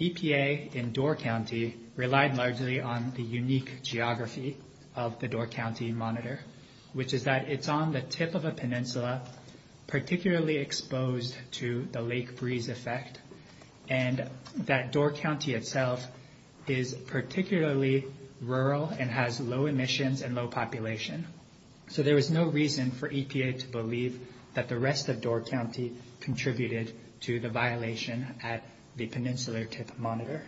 EPA in Door County relied largely on the unique geography of the Door County monitor, which is that it's on the tip of a peninsula, particularly exposed to the lake breeze effect, and that Door County itself is particularly rural and has low emissions and low population. So there is no reason for EPA to believe that the rest of Door County contributed to the violation at the peninsular monitor.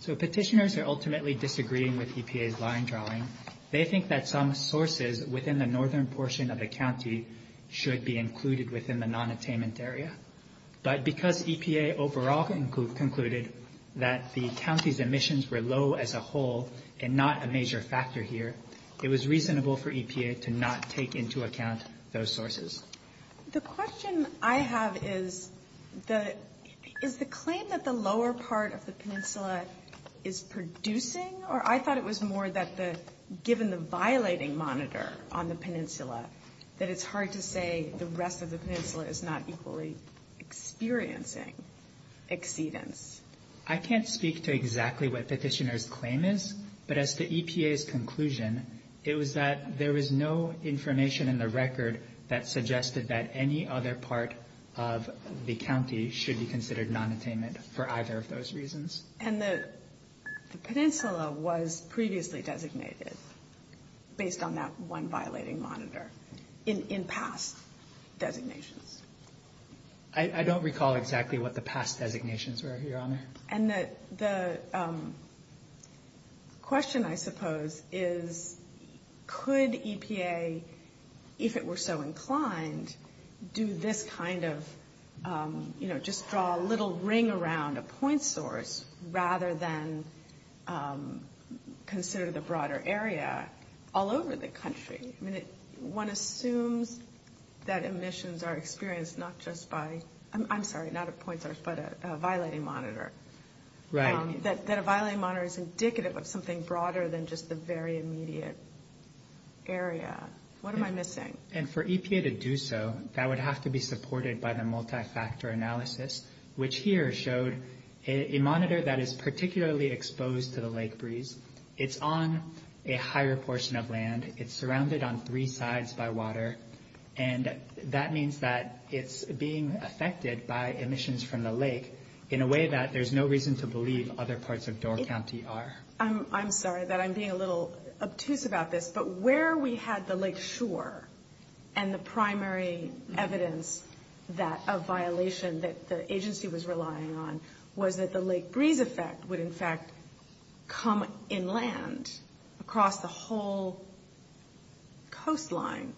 So petitioners are ultimately disagreeing with EPA's line drawing. They think that some sources within the northern portion of the county should be included within the non-attainment area. But because EPA overall concluded that the county's emissions were low as a whole and not a major factor here, it was reasonable for EPA to not take into account those sources. The question I have is, is the claim that the lower part of the peninsula is producing? Or I thought it was more that given the violating monitor on the peninsula, that it's hard to say the rest of the peninsula is not equally experiencing exceedance. I can't speak to exactly what the petitioner's claim is. But as to EPA's conclusion, it was that there was no information in the record that suggested that any other part of the county should be considered non-attainment for either of those reasons. And the peninsula was previously designated based on that one violating monitor in past designations. I don't recall exactly what the past designations were, Your Honor. And the question, I suppose, is could EPA, if it were so inclined, do this kind of, you know, just draw a little ring around a point source rather than consider the broader area all over the country? I mean, one assumes that emissions are experienced not just by, I'm sorry, not a point source, but a violating monitor. Right. That a violating monitor is indicative of something broader than just the very immediate area. What am I missing? And for EPA to do so, that would have to be supported by the multi-factor analysis, which here showed a monitor that is particularly exposed to the lake breeze. It's on a higher portion of land. It's surrounded on three sides by water. And that means that it's being affected by emissions from the lake in a way that there's no reason to believe other parts of Door County are. I'm sorry that I'm being a little obtuse about this, but where we had the lake shore and the primary evidence of violation that the agency was relying on was that the lake breeze effect would, in fact, come inland across the whole coastline.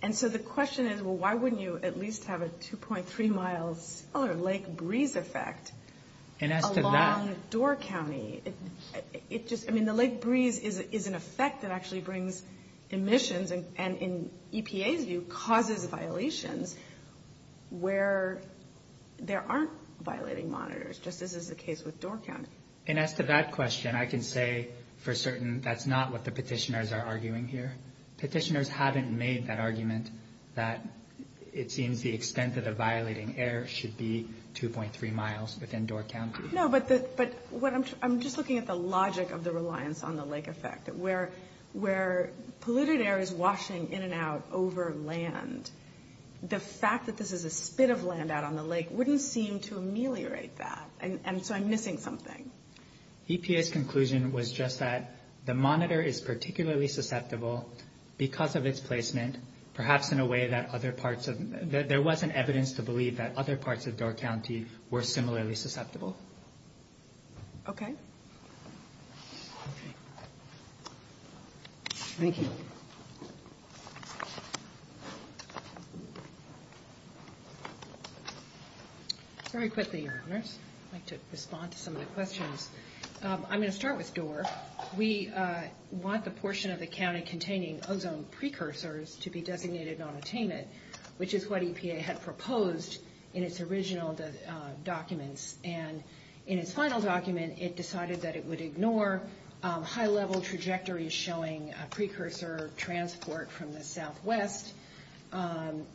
And so the question is, well, why wouldn't you at least have a 2.3-mile lake breeze effect along Door County? I mean, the lake breeze is an effect that actually brings emissions and in EPA's view causes a violation where there aren't violating monitors, just as is the case with Door County. And as to that question, I can say for certain that's not what the petitioners are arguing here. Petitioners haven't made that argument that it seems the extent of the violating air should be 2.3 miles within Door County. No, but I'm just looking at the logic of the reliance on the lake effect. Where polluted air is washing in and out over land, the fact that this is a spit of land out on the lake wouldn't seem to ameliorate that. And so I'm missing something. EPA's conclusion was just that the monitor is particularly susceptible because of its placement, perhaps in a way that other parts of – there wasn't evidence to believe that other parts of Door County were similarly susceptible. Okay. Thank you. Thank you. Very quickly, I'd like to respond to some of the questions. I'm going to start with Door. We want the portion of the county containing ozone precursors to be designated on attainment, which is what EPA had proposed in its original document. And in its final document, it decided that it would ignore high-level trajectories showing a precursor transport from the southwest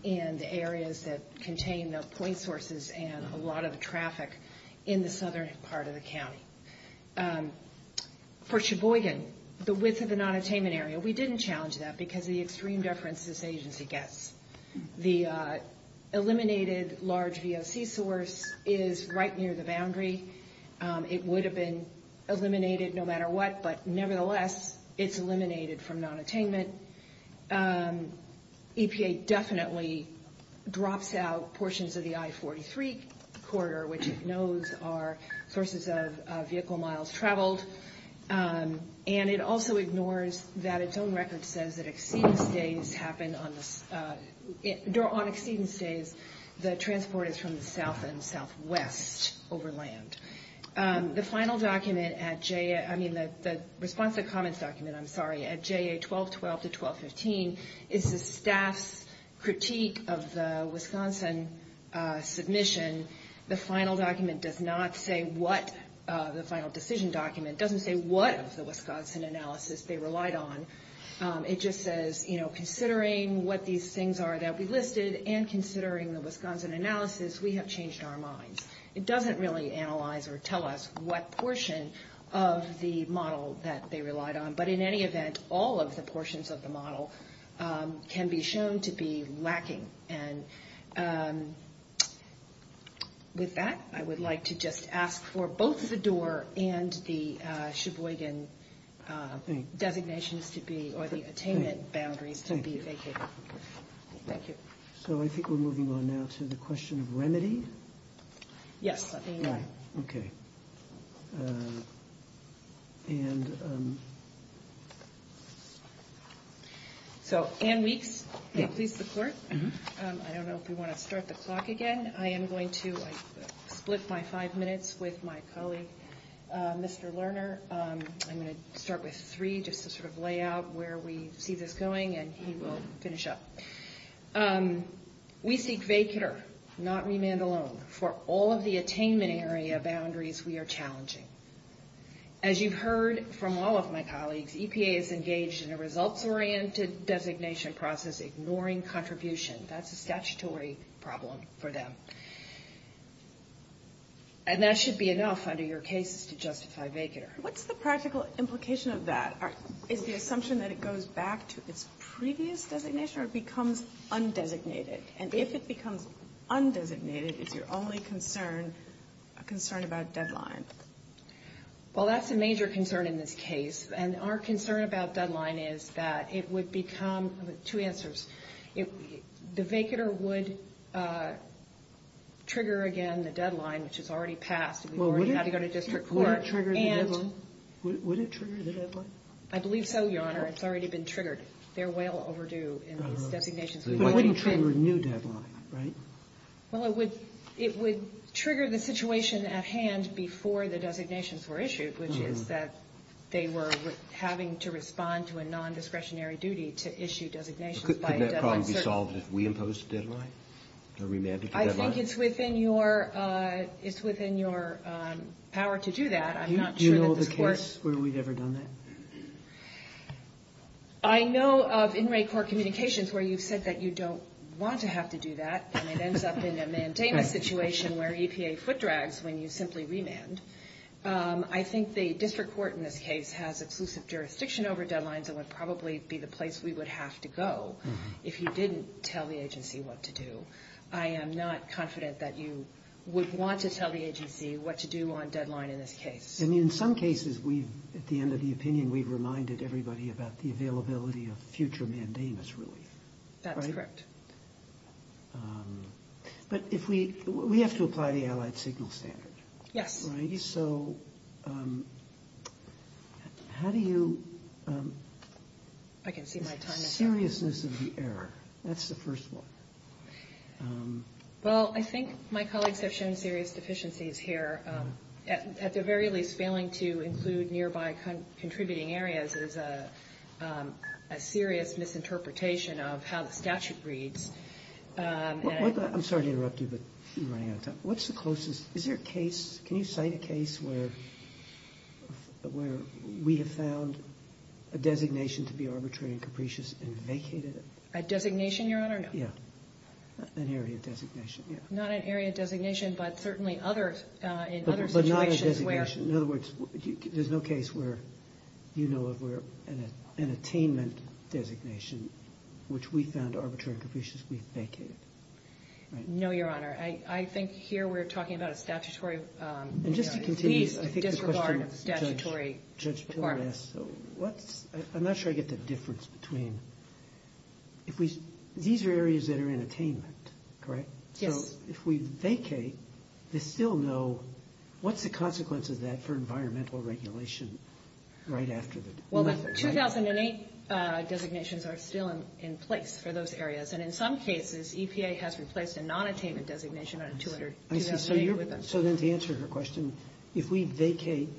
and areas that contain the point sources and a lot of traffic in the southern part of the county. For Cheboygan, the width of an unattainment area, we didn't challenge that because of the extreme deference this agency gets. The eliminated large VOC source is right near the boundary. It would have been eliminated no matter what, but nevertheless, it's eliminated from non-attainment. EPA definitely drops out portions of the I-43 corridor, which it knows are sources of vehicle miles traveled. And it also ignores that its own record says that on exceedance days, the transport is from the south and southwest over land. The final document at JA – I mean, the response and comments document, I'm sorry, at JA 1212 to 1215 is the staff's critique of the Wisconsin submission. The final document does not say what – the final decision document doesn't say what of the Wisconsin analysis they relied on. It just says, you know, considering what these things are that we listed and considering the Wisconsin analysis, we have changed our mind. It doesn't really analyze or tell us what portion of the model that they relied on. But in any event, all of the portions of the model can be shown to be lacking. And with that, I would like to just ask for both the door and the Cheboygan designation to be – or the attainment boundaries to be vacated. Thank you. So I think we're moving on now to the question of remedy. Yes, let me know. Okay. And – So Anne Weeks, please report. I don't know if we want to start the clock again. I am going to split my five minutes with my colleague, Mr. Lerner. I'm going to start with three just to sort of lay out where we see this going and he will finish up. We seek vacater, not remand alone. For all of the attainment area boundaries, we are challenging. As you've heard from all of my colleagues, EPA is engaged in a results-oriented designation process, ignoring contribution. That's a statutory problem for them. And that should be enough under your cases to justify vacater. What's the practical implication of that? Is the assumption that it goes back to its previous designation or it becomes undesignated? And if it becomes undesignated, is your only concern a concern about deadline? Well, that's a major concern in this case. And our concern about deadline is that it would become – I have two answers. The vacater would trigger again the deadline, which is already passed. Would it trigger the deadline? I believe so, Your Honor. It's already been triggered. They're well overdue in designations. But it wouldn't trigger a new deadline, right? Well, it would trigger the situation at hand before the designations were issued, which is that they were having to respond to a nondiscretionary duty to issue designations. Could that problem be solved if we impose a deadline, a remanded deadline? I think it's within your power to do that. I'm not sure that this works. Do you know of a case where we've ever done that? I know of inmate court communications where you've said that you don't want to have to do that and it ends up in a mandamus situation where EPA foot drags when you simply remand. I think the district court in this case has exclusive jurisdiction over deadlines and would probably be the place we would have to go if you didn't tell the agency what to do. I am not confident that you would want to tell the agency what to do on deadline in this case. I mean, in some cases, at the end of the opinion, we've reminded everybody about the availability of future mandamus, really. That's correct. But we have to apply the allied signal standard. Yes. So how do you... I can see my time is up. The seriousness of the error. That's the first one. Well, I think my colleagues have shown serious deficiencies here. At the very least, failing to include nearby contributing areas is a serious misinterpretation of how the statute reads. I'm sorry to interrupt you, but you're running out of time. What's the closest... Is there a case... Can you cite a case where we have found a designation to be arbitrary and capricious and vacated it? A designation, Your Honor? Yeah. An area designation, yeah. Not an area designation, but certainly other situations where... But not a designation. In other words, there's no case where you know of where an attainment designation, which we found arbitrary and capricious, we vacated. No, Your Honor. I think here we're talking about a statutory... And just to continue... Disregard statutory... Judge, I'm not sure I get the difference between... These are areas that are in attainment, correct? Yes. So if we vacate, they still know... What's the consequence of that for environmental regulation right after the... Well, the 2008 designations are still in place for those areas. And in some cases, EPA has replaced a non-attainment designation on a 2008... So there's the answer to your question. If we vacate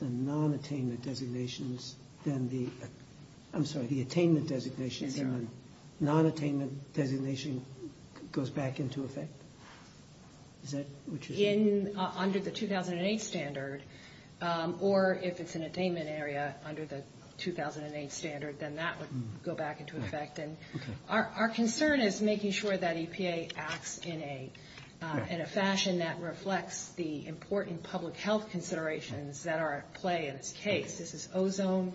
the non-attainment designations, then the... I'm sorry, the attainment designations and the non-attainment designation goes back into effect. Is that what you're saying? Under the 2008 standard, or if it's an attainment area under the 2008 standard, then that would go back into effect. And our concern is making sure that EPA acts in a fashion that reflects the important public health considerations that are at play in this case. This is ozone,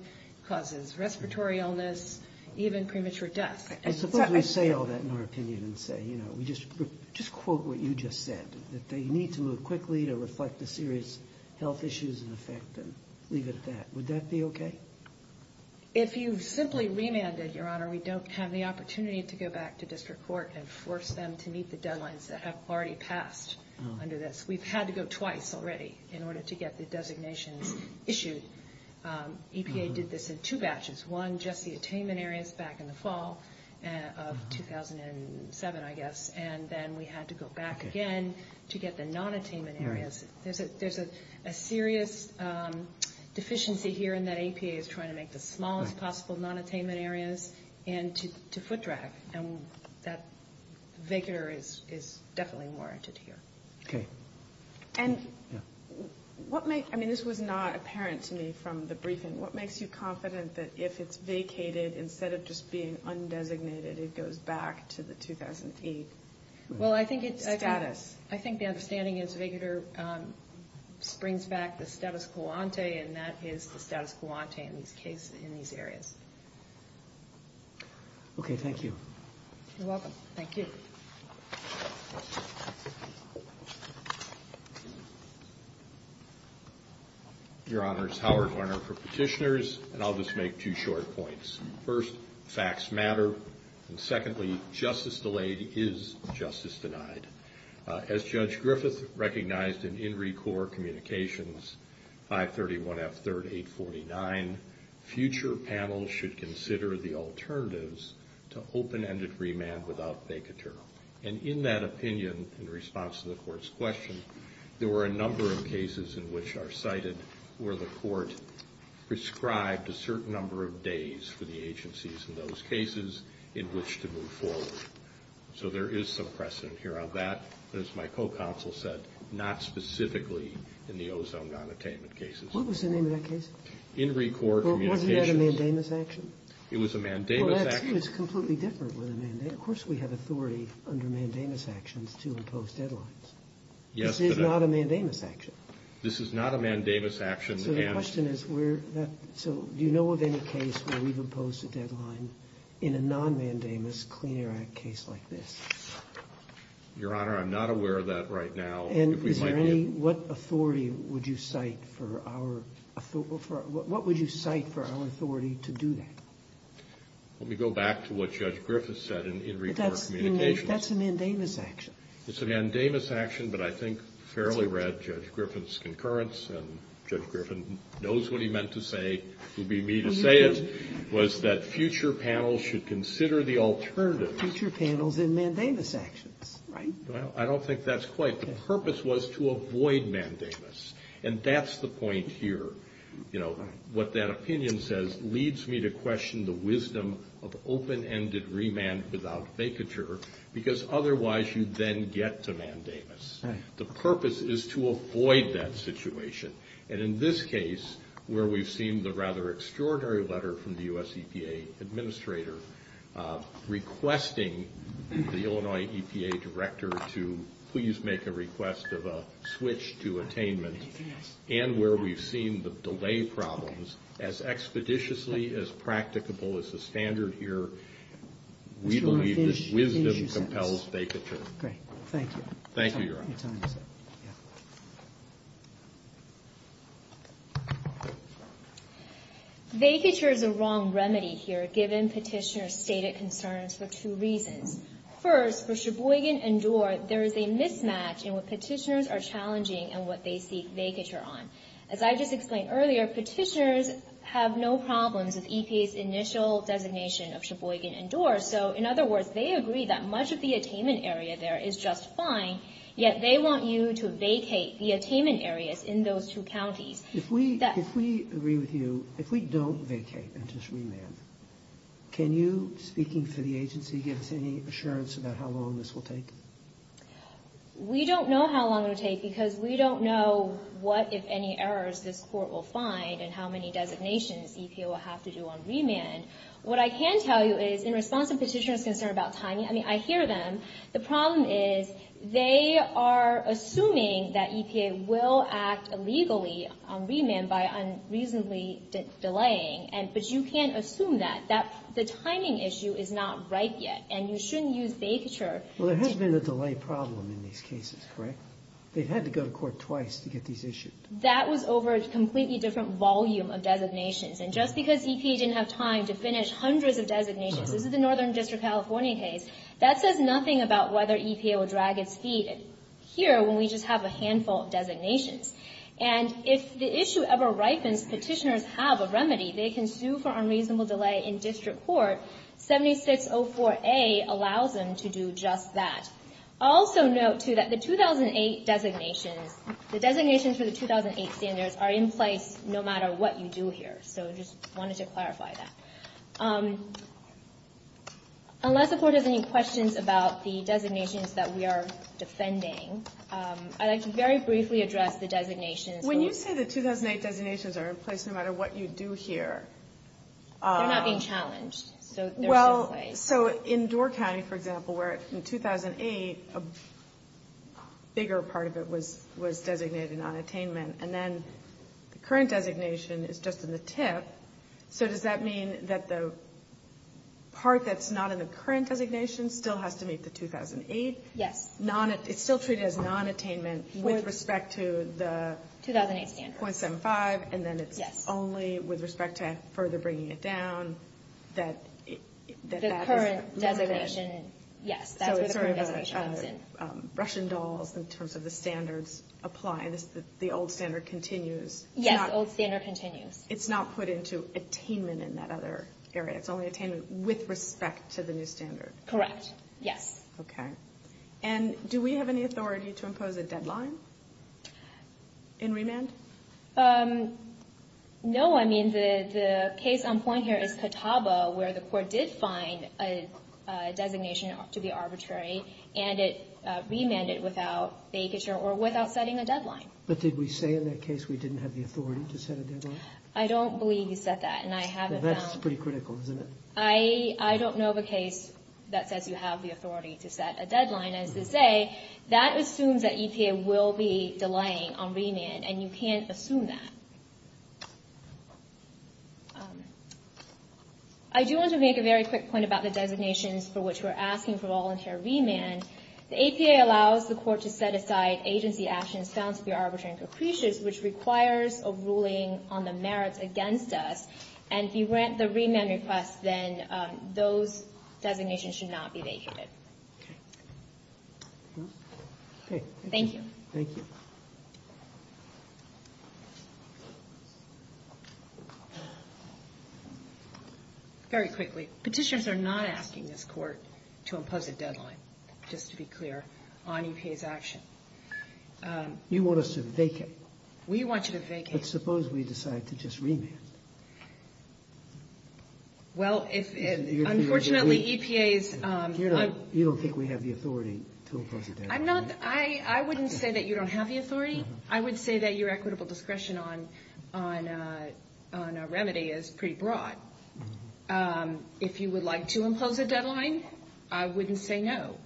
causes respiratory illness, even premature death. I suppose we say all that in order to even say, you know, just quote what you just said, that they need to move quickly to reflect the serious health issues in effect and leave it at that. Would that be okay? If you simply remanded, Your Honor, we don't have the opportunity to go back to district court and force them to meet the deadlines that have already passed under this. We've had to go twice already in order to get the designation issued. EPA did this in two batches, one just the attainment areas back in the fall of 2007, I guess, and then we had to go back again to get the non-attainment areas. There's a serious deficiency here in that EPA is trying to make the smallest possible non-attainment areas and to foot drag. And that vacator is definitely warranted here. Okay. And what makes – I mean, this was not apparent to me from the briefing. What makes you confident that if it's vacated, instead of just being undesignated, it goes back to the 2008 status? Well, I think it's – I think the understanding is vacator brings back the status quo ante, and that is the status quo ante in this case in these areas. Okay. Thank you. You're welcome. Thank you. Your Honor, it's Howard Lerner for Petitioners, and I'll just make two short points. First, facts matter. And secondly, justice delayed is justice denied. As Judge Griffith recognized in In Recor Communications 531F3849, future panels should consider the alternatives to open-ended remand without vacator. And in that opinion, in response to the Court's question, there were a number of cases in which are cited where the Court prescribed a certain number of days for the agencies in those cases in which to move forward. So there is some precedent here. Now, that, as my co-counsel said, not specifically in the ozone monotainment cases. What was the name of that case? In Recor Communications. Wasn't that a mandamus action? It was a mandamus action. Well, that was completely different. Of course we have authority under mandamus actions to impose deadlines. This is not a mandamus action. This is not a mandamus action. So the question is, do you know of any case where we would post a deadline in a non-mandamus Clean Air Act case like this? Your Honor, I'm not aware of that right now. And what authority would you cite for our authority to do that? Let me go back to what Judge Griffith said in Recor Communications. That's a mandamus action. It's a mandamus action, but I think fairly read Judge Griffith's concurrence, and Judge Griffith knows what he meant to say. It would be me to say it, was that future panels should consider the alternative. Future panels in mandamus actions, right? Well, I don't think that's quite the purpose. The purpose was to avoid mandamus, and that's the point here. You know, what that opinion says leads me to question the wisdom of open-ended remand without vacature, because otherwise you then get to mandamus. The purpose is to avoid that situation. And in this case, where we've seen the rather extraordinary letter from the U.S. EPA Administrator requesting the Illinois EPA Director to please make a request of a switch to attainment, and where we've seen the delay problems as expeditiously as practicable as the standard here, we believe this wisdom compels vacature. Great. Thank you. Thank you, Your Honor. Vacature is the wrong remedy here, given Petitioner's stated concerns for two reasons. First, for Sheboygan and Doar, there is a mismatch in what Petitioners are challenging and what they seek vacature on. As I just explained earlier, Petitioners have no problems with EPA's initial designation of Sheboygan and Doar, so in other words, they agree that much of the attainment area there is just fine, yet they want you to vacate the attainment areas in those two counties. If we agree with you, if we don't vacate until remand, can you, speaking for the agency, give us any assurance about how long this will take? We don't know how long it will take because we don't know what, if any, errors this court will find and how many designations EPA will have to do on remand. What I can tell you is, in response to Petitioner's concern about timing, I mean, I hear them. The problem is they are assuming that EPA will act illegally on remand by unreasonably delaying, but you can't assume that. The timing issue is not right yet, and you shouldn't use vacature. Well, there has been a delay problem in these cases, right? They've had to go to court twice to get these issues. That was over a completely different volume of designations, and just because EPA didn't have time to finish hundreds of designations, this is a northern district California case, that says nothing about whether EPA will drag its feet here when we just have a handful of designations. And if the issue ever ripens, Petitioner's have a remedy. They can sue for unreasonable delay in district court. 7604A allows them to do just that. Also note, too, that the 2008 designations, the designations for the 2008 standards, are in place no matter what you do here. So I just wanted to clarify that. Unless the board has any questions about the designations that we are defending, I'd like to very briefly address the designations. When you say the 2008 designations are in place no matter what you do here. They're not being challenged. Well, so in Door County, for example, where in 2008 a bigger part of it was designated on attainment, and then the current designation is just in the tip, so does that mean that the part that's not in the current designation still has to meet the 2008? Yes. It's still treated as non-attainment with respect to the 2008 standards. .75, and then it's only with respect to further bringing it down. The current designation, yes, that's the current designation. Russian dolls in terms of the standards apply. The old standard continues. Yes, the old standard continues. It's not put into attainment in that other area. It's only attainment with respect to the new standards. Correct, yes. Okay. And do we have any authority to impose a deadline in remand? No. I mean, the case on point here is Catawba, where the court did find a designation to be arbitrary, and it remanded without vacature or without setting a deadline. But did we say in that case we didn't have the authority to set a deadline? I don't believe you said that, and I haven't found. That's pretty critical, isn't it? I don't know of a case that says you have the authority to set a deadline. And as you say, that assumes that EPA will be delaying on remand, and you can't assume that. I do want to make a very quick point about the designations for which we're asking for volunteer remand. The EPA allows the court to set aside agency actions found to be arbitrary and capricious, which requires a ruling on the merits against us, and if you grant the remand request, then those designations should not be vacated. Thank you. Thank you. Very quickly, petitions are not asking this court to impose a deadline, just to be clear, on EPA's action. You want us to vacate. We want you to vacate. But suppose we decide to just remand. Well, it's – unfortunately, EPA's – You don't think we have the authority to impose a deadline? I'm not – I wouldn't say that you don't have the authority. I would say that your equitable discretion on a remedy is pretty broad. If you would like to impose a deadline, I wouldn't say no.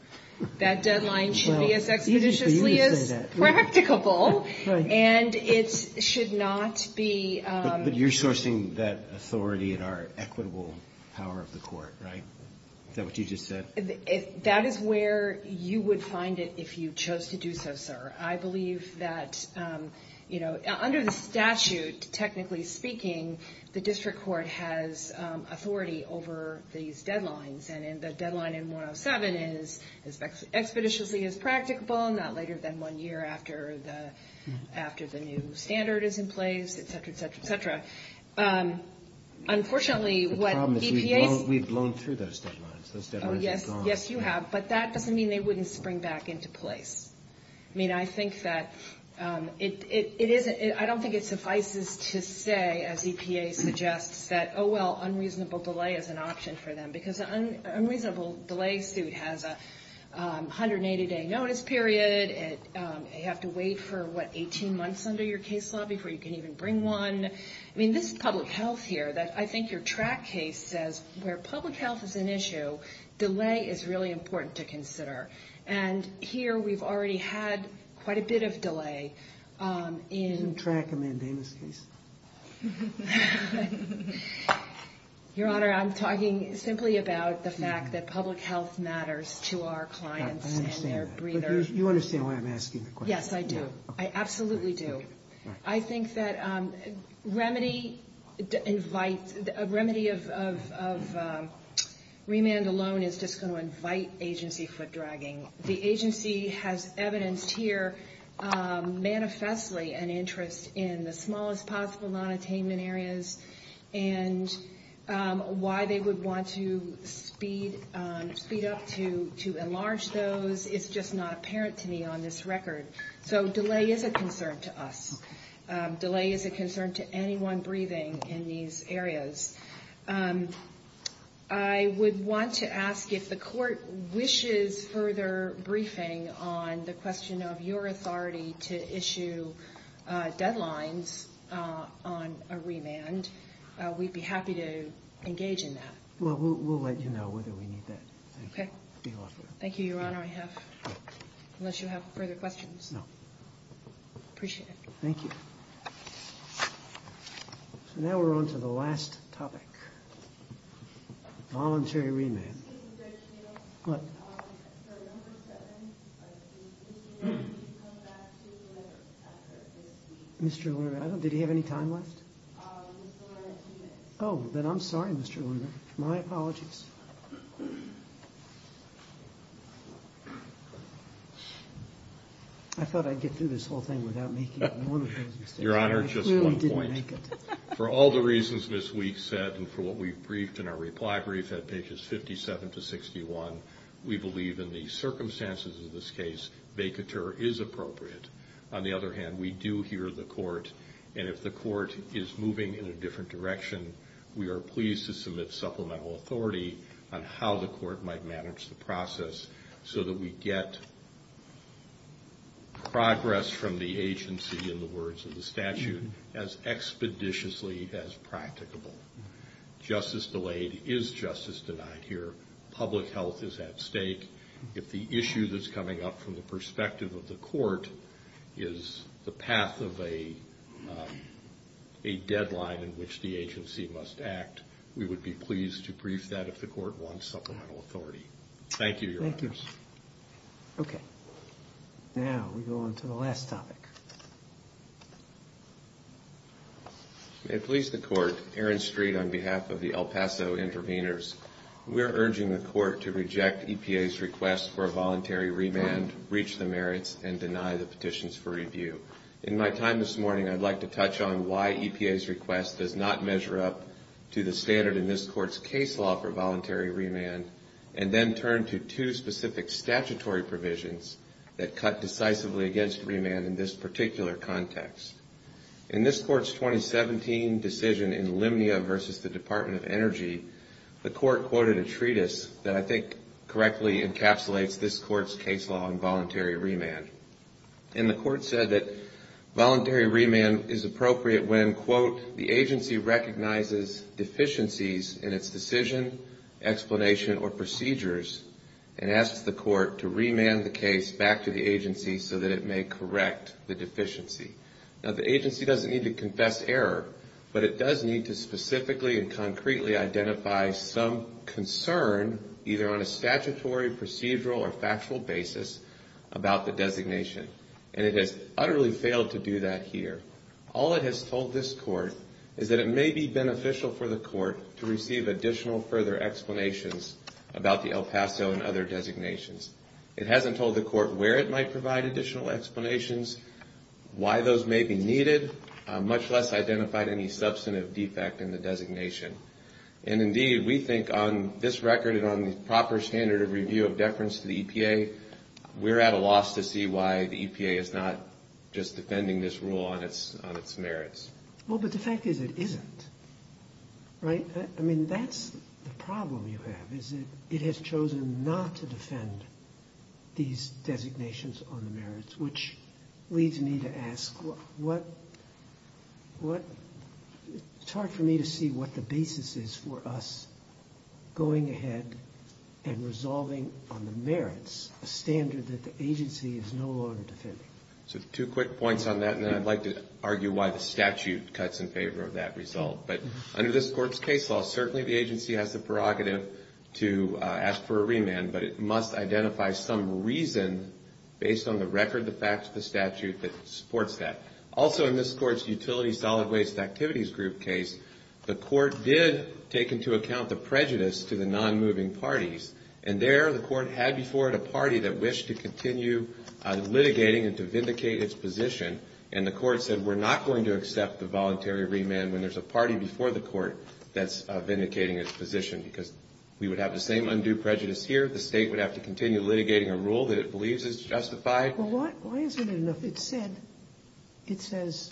That deadline should be as expeditiously as practicable, and it should not be – But you're sourcing that authority in our equitable power of the court, right? Is that what you just said? That is where you would find it if you chose to do so, sir. I believe that, you know, under the statute, technically speaking, the district court has authority over these deadlines, and the deadline in 107 is as expeditiously as practicable, and not later than one year after the new standard is in place, et cetera, et cetera, et cetera. Unfortunately, what EPA – The problem is we've blown through those deadlines. Oh, yes. Yes, you have. But that doesn't mean they wouldn't spring back into place. I mean, I think that it is – I don't think it suffices to say, as EPA suggests, that, oh, well, unreasonable delay is an option for them because an unreasonable delay suit has a 180-day notice period. You have to wait for, what, 18 months under your case law before you can even bring one. I mean, this is public health here. I think your track case says where public health is an issue, delay is really important to consider, and here we've already had quite a bit of delay in – Your Honor, I'm talking simply about the fact that public health matters to our clients and their breathers. You understand what I'm asking, of course. Yes, I do. I absolutely do. I think that a remedy of remand alone is just going to invite agency foot-dragging. The agency has evidenced here manifestly an interest in the smallest possible nonattainment areas, and why they would want to speed up to enlarge those is just not apparent to me on this record. So delay is a concern to us. Delay is a concern to anyone breathing in these areas. I would want to ask if the court wishes further briefing on the question of your authority to issue deadlines on a remand. We'd be happy to engage in that. Well, we'll let you know whether we need that. Okay. Thank you, Your Honor. I have – unless you have further questions. No. Appreciate it. Thank you. So now we're on to the last topic, voluntary remand. Mr. Grisham? What? I'm sorry. I don't think there are any questions. Mr. Lurado, did you have any time left? Mr. Lurado, yes. Oh, then I'm sorry, Mr. Lurado. My apologies. I thought I'd get through this whole thing without making one of those mistakes. Your Honor, just one point. I clearly didn't make it. For all the reasons this week said and for what we've briefed in our reply brief at pages 57 to 61, we believe in the circumstances of this case, vacateur is appropriate. On the other hand, we do hear the court, and if the court is moving in a different direction, we are pleased to submit supplemental authority on how the court might manage the process so that we get progress from the agency in the words of the statute as expeditiously as practicable. Justice delayed is justice denied here. Public health is at stake. If the issue that's coming up from the perspective of the court is the path of a deadline in which the agency must act, we would be pleased to brief that if the court wants supplemental authority. Thank you, Your Honor. Thank you. Okay. Now we go on to the last topic. May it please the Court, Aaron Street on behalf of the El Paso Intervenors. We're urging the court to reject EPA's request for a voluntary remand, breach the merits, and deny the petitions for review. In my time this morning, I'd like to touch on why EPA's request does not measure up to the standard in this court's case law for voluntary remand and then turn to two specific statutory provisions that cut decisively against remand in this particular context. In this court's 2017 decision in Lemnia versus the Department of Energy, the court quoted a treatise that I think correctly encapsulates this court's case law on voluntary remand. And the court said that voluntary remand is appropriate when, quote, the agency recognizes deficiencies in its decision, explanation, or procedures and asks the court to remand the case back to the agency so that it may correct the deficiency. Now the agency doesn't need to confess error, but it does need to specifically and concretely identify some concern either on a statutory, procedural, or factual basis about the designation. And it has utterly failed to do that here. All it has told this court is that it may be beneficial for the court to receive additional further explanations about the El Paso and other designations. It hasn't told the court where it might provide additional explanations, why those may be needed, much less identified any substantive defect in the designation. And indeed, we think on this record and on the proper standard of review of deference to the EPA, we're at a loss to see why the EPA is not just defending this rule on its merits. Well, but the fact is it isn't. Right? I mean, that's the problem you have, is that it has chosen not to defend these designations on the merits, which leads me to ask, it's hard for me to see what the basis is for us going ahead and resolving on the merits, a standard that the agency is no longer defending. So two quick points on that, and then I'd like to argue why the statute cuts in favor of that result. But under this court's case law, certainly the agency has the prerogative to ask for a remand, but it must identify some reason based on the record, the facts, the statute that supports that. Also in this court's utility solid waste activities group case, the court did take into account the prejudice to the non-moving parties. And there the court had before it a party that wished to continue litigating and to vindicate its position, and the court said we're not going to accept the voluntary remand when there's a party before the court that's vindicating its position because we would have the same undue prejudice here, the state would have to continue litigating a rule that it believes is justified. Why isn't it enough? It says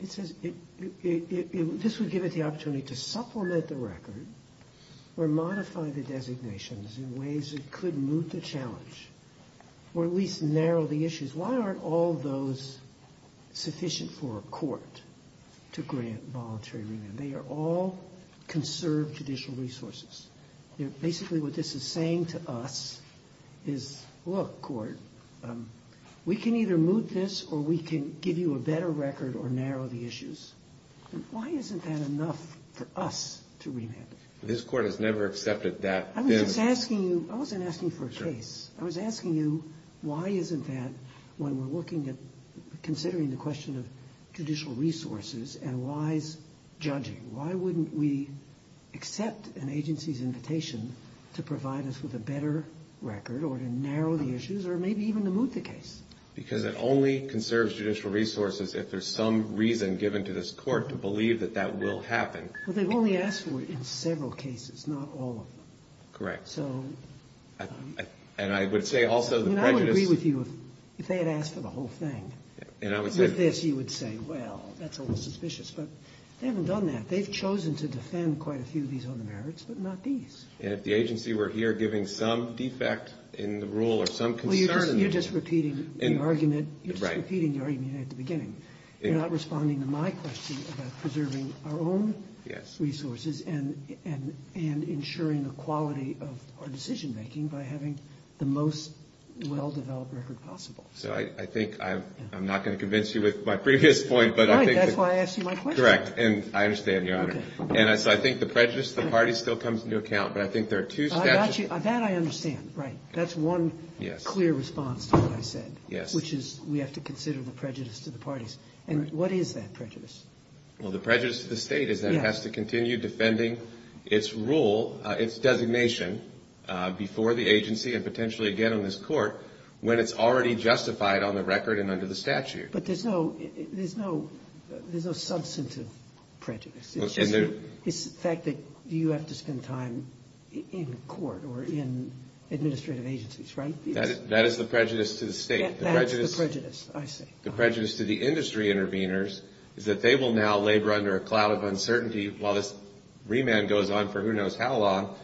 this would give it the opportunity to supplement the record or modify the designations in ways that could move the challenge or at least narrow the issues. Why aren't all those sufficient for a court to grant voluntary remand? They are all conserved judicial resources. Basically what this is saying to us is, look, court, we can either move this or we can give you a better record or narrow the issues. Why isn't that enough for us to remand? This court has never accepted that. I wasn't asking for a case. I was asking you why isn't that when we're looking at considering the question of judicial resources and why is judging? Why wouldn't we accept an agency's invitation to provide us with a better record or to narrow the issues or maybe even to move the case? Because it only conserves judicial resources if there's some reason given to this court to believe that that will happen. But they've only asked for it in several cases, not all of them. Correct. So... And I would say also the prejudice... I would agree with you if they had asked for the whole thing. With this you would say, well, that's a little suspicious. But they haven't done that. They've chosen to defend quite a few of these other merits, but not these. And if the agency were here giving some defect in the rule or some concern... Well, you're just repeating the argument at the beginning. You're not responding to my question about preserving our own resources and ensuring the quality of our decision-making by having the most well-developed record possible. So I think I'm not going to convince you with my previous point, but I think... That's why I asked you my question. Correct. And I understand, Your Honor. And so I think the prejudice to the parties still comes into account. But I think there are two steps... That I understand. Right. That's one clear response to what I said. Yes. Which is we have to consider the prejudice to the parties. And what is that prejudice? Well, the prejudice to the state is that it has to continue defending its rule, its designation before the agency and potentially again in this court when it's already justified on the record and under the statute. But there's no substantive prejudice. It's the fact that you have to spend time in court or in administrative agencies, right? That is the prejudice to the state. That is the prejudice, I see. The prejudice to the industry interveners is that they will now labor under a cloud of uncertainty while this remand goes on for who knows how long.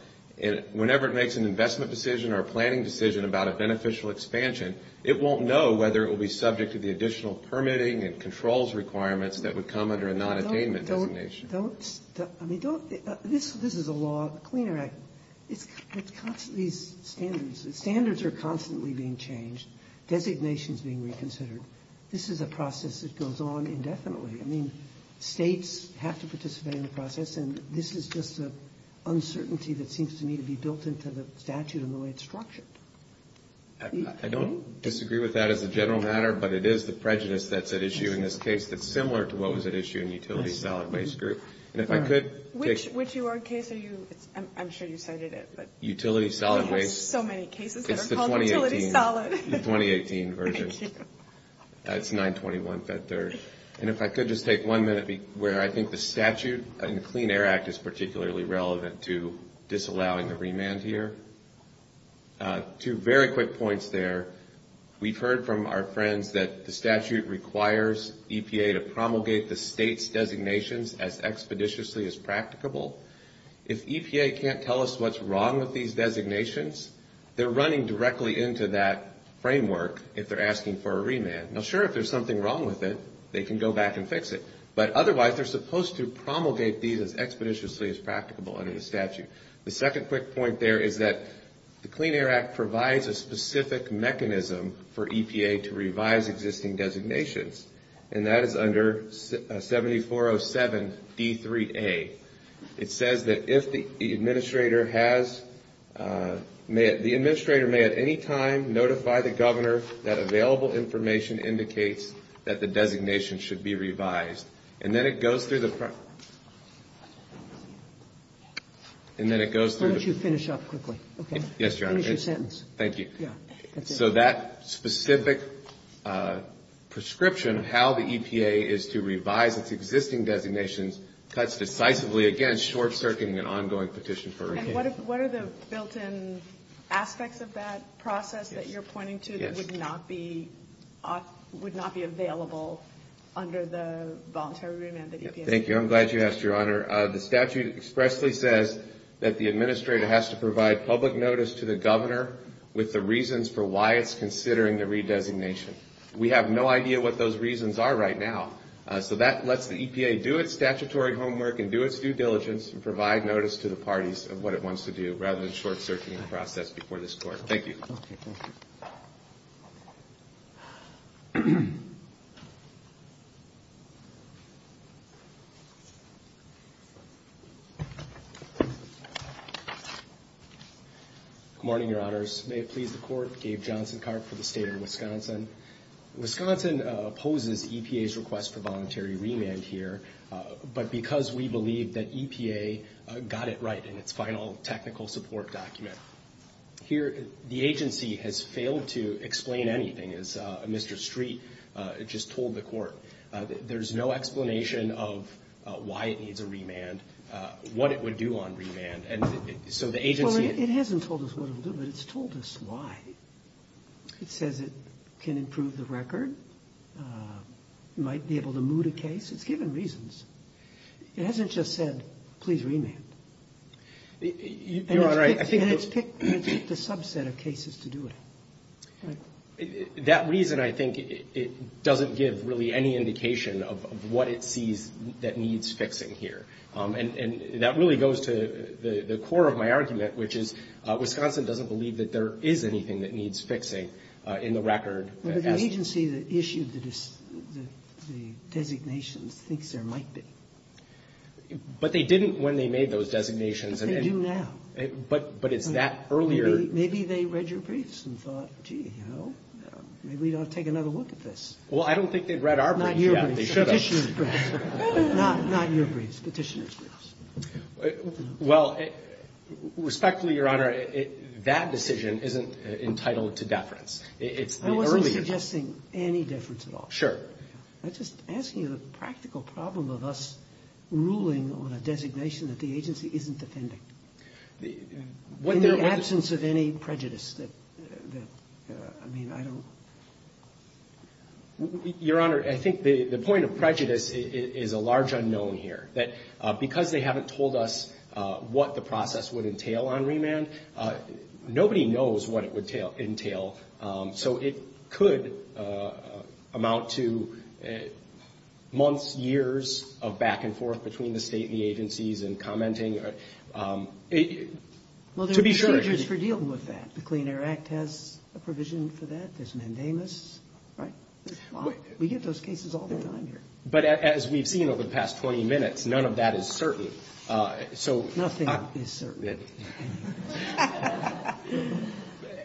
And whenever it makes an investment decision or a planning decision about a beneficial expansion, it won't know whether it will be subject to the additional permitting and controls requirements that would come under a non-attainment designation. Don't... I mean, don't... This is a law... Clean Air Act... It's constantly... Standards... Standards are constantly being changed. Designations being reconsidered. This is a process that goes on indefinitely. I mean, states have to participate in the process and this is just an uncertainty that seems to me to be built into the statute and the way it's structured. I don't disagree with that as a general matter, but it is the prejudice that's at issue in this case that's similar to what was at issue in Utility Solid Waste Group. And if I could take... Which... Which of your cases are you... I'm sure you said it is, but... Utility Solid Waste... So many cases that are called Utility Solid. It's the 2018 version. It's 921-5-3. And if I could just take one minute where I think the statute and Clean Air Act is particularly relevant to disallowing the remand here. Two very quick points there. We've heard from our friends that the statute requires EPA to promulgate the state's designations as expeditiously as practicable. If EPA can't tell us what's wrong with these designations, they're running directly into that framework if they're asking for a remand. Now, sure, if there's something wrong with it, they can go back and fix it. But otherwise, they're supposed to promulgate these as expeditiously as practicable under the statute. The second quick point there is that the Clean Air Act provides a specific mechanism for EPA to revise existing designations, and that is under 7407-D3A. It says that if the administrator has... The administrator may at any time notify the governor that available information indicates that the designation should be revised. And then it goes through the... Why don't you finish up quickly? Yes, John. Finish your sentence. Thank you. So that specific prescription, how the EPA is to revise its existing designations, cuts decisively against short-circuiting an ongoing petition for a remand. And what are the built-in aspects of that process that you're pointing to that would not be available under the voluntary remand of the EPA? Thank you. I'm glad you asked, Your Honor. The statute expressly says that the administrator has to provide public notice to the governor with the reasons for why it's considering the redesignation. We have no idea what those reasons are right now. So that lets the EPA do its statutory homework and do its due diligence and provide notice to the parties of what it wants to do rather than short-circuiting the process before this court. Thank you. Good morning, Your Honors. May it please the Court, Gabe Johnson-Karp for the State of Wisconsin. Wisconsin opposes the EPA's request for voluntary remand here, but because we believe that EPA got it right in its final technical support document. Here, the agency has failed to explain anything, as Mr. Street just told the Court. There's no explanation of why it needs a remand, what it would do on remand. And so the agency – Well, it hasn't told us what it would do, but it's told us why. It says it can improve the record, might be able to moot a case. It's given reasons. It hasn't just said, please remand. Your Honor, I think it's – And it's picked the subset of cases to do it. That reason, I think, doesn't give really any indication of what it sees that needs fixing here. And that really goes to the core of my argument, which is Wisconsin doesn't believe that there is anything that needs fixing in the record. Well, the agency that issued the designation thinks there might be. But they didn't when they made those designations. They do now. But it's that earlier – Maybe they read your briefs and thought, gee, you know, maybe we ought to take another look at this. Well, I don't think they'd read our briefs. Not your briefs, petitioner's briefs. Not your briefs, petitioner's briefs. Well, respectfully, Your Honor, that decision isn't entitled to deference. It's the earlier – I wasn't suggesting any deference at all. Sure. I'm just asking you the practical problem of us ruling on a designation that the agency isn't defending in the absence of any prejudice. I mean, I don't – Your Honor, I think the point of prejudice is a large unknown here, that because they haven't told us what the process would entail on remand, nobody knows what it would entail. So it could amount to months, years of back and forth between the state and the agencies and commenting. To be sure – Well, there are procedures for dealing with that. The Clean Air Act has a provision for that. There's mandamus. Right? Well, we get those cases all the time here. But as we've seen over the past 20 minutes, none of that is certain. So – Nothing is certain.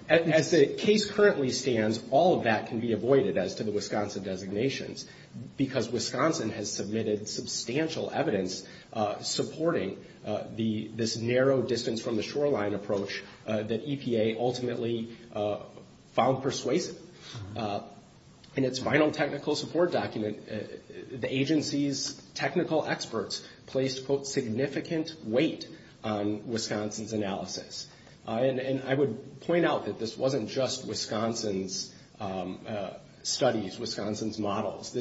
As the case currently stands, all of that can be avoided as to the Wisconsin designations, because Wisconsin has submitted substantial evidence supporting this narrow distance from the shoreline approach that EPA ultimately found persuasive. In its final technical support document, the agency's technical experts placed, quote, significant weight on Wisconsin's analysis. And I would point out that this wasn't just Wisconsin's studies, Wisconsin's models.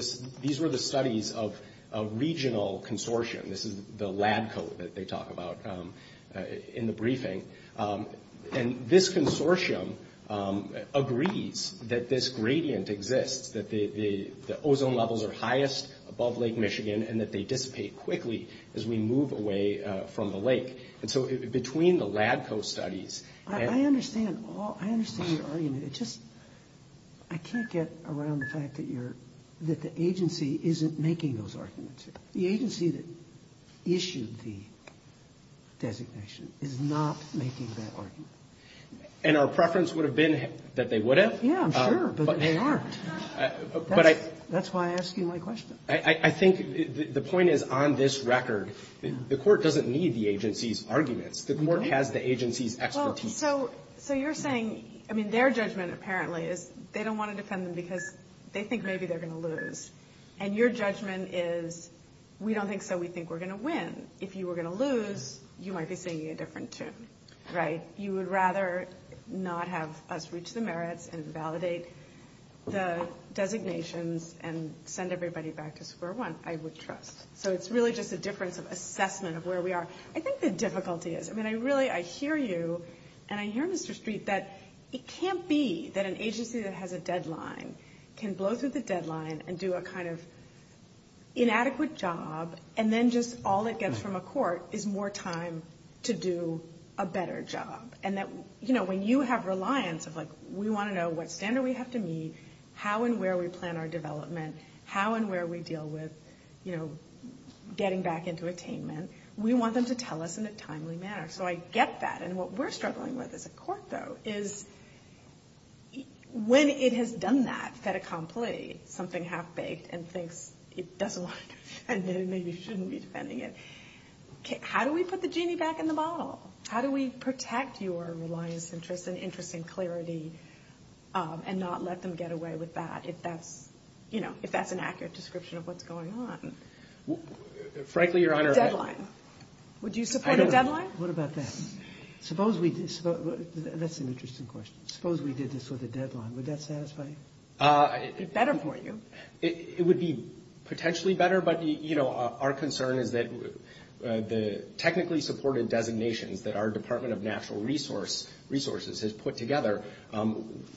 These were the studies of a regional consortium. This is the lab coat that they talk about in the briefing. And this consortium agrees that this gradient exists, that the ozone levels are highest above Lake Michigan and that they dissipate quickly as we move away from the lake. And so between the lab coat studies – I understand all – I understand your argument. It's just – I can't get around the fact that you're – that the agency isn't making those arguments. The agency that issued the designation is not making that argument. And our preference would have been that they wouldn't? Yeah, sure, but they aren't. That's why I asked you my question. I think the point is, on this record, the court doesn't need the agency's arguments. The court has the agency's expertise. So you're saying – I mean, their judgment apparently is they don't want to defend them because they think maybe they're going to lose. And your judgment is we don't think so. We think we're going to win. If you were going to lose, you might be singing a different tune, right? You would rather not have us reach the merits and validate the designations and send everybody back to square one. I would trust. So it's really just a difference of assessment of where we are. I think the difficulty is – I mean, I really – I hear you and I hear Mr. Street that it can't be that an agency that has a deadline can blow through the deadline and do a kind of inadequate job, and then just all it gets from a court is more time to do a better job. And that, you know, when you have reliance of, like, we want to know what standard we have to meet, how and where we plan our development, how and where we deal with, you know, getting back into attainment, we want them to tell us in a timely manner. So I get that. And what we're struggling with as a court, though, is when it has done that, set it complete, something half-baked, and thinks it doesn't want to defend it and maybe shouldn't be defending it, how do we put the genie back in the bottle? How do we protect your reliance, interest, and interest in clarity and not let them get away with that if that's, you know, if that's an accurate description of what's going on? Frankly, Your Honor – Deadline. Would you support a deadline? What about that? That's an interesting question. Suppose we did this with a deadline. Would that satisfy you? It's better for you. It would be potentially better, but, you know, our concern is that the technically supported designation that our Department of Natural Resources has put together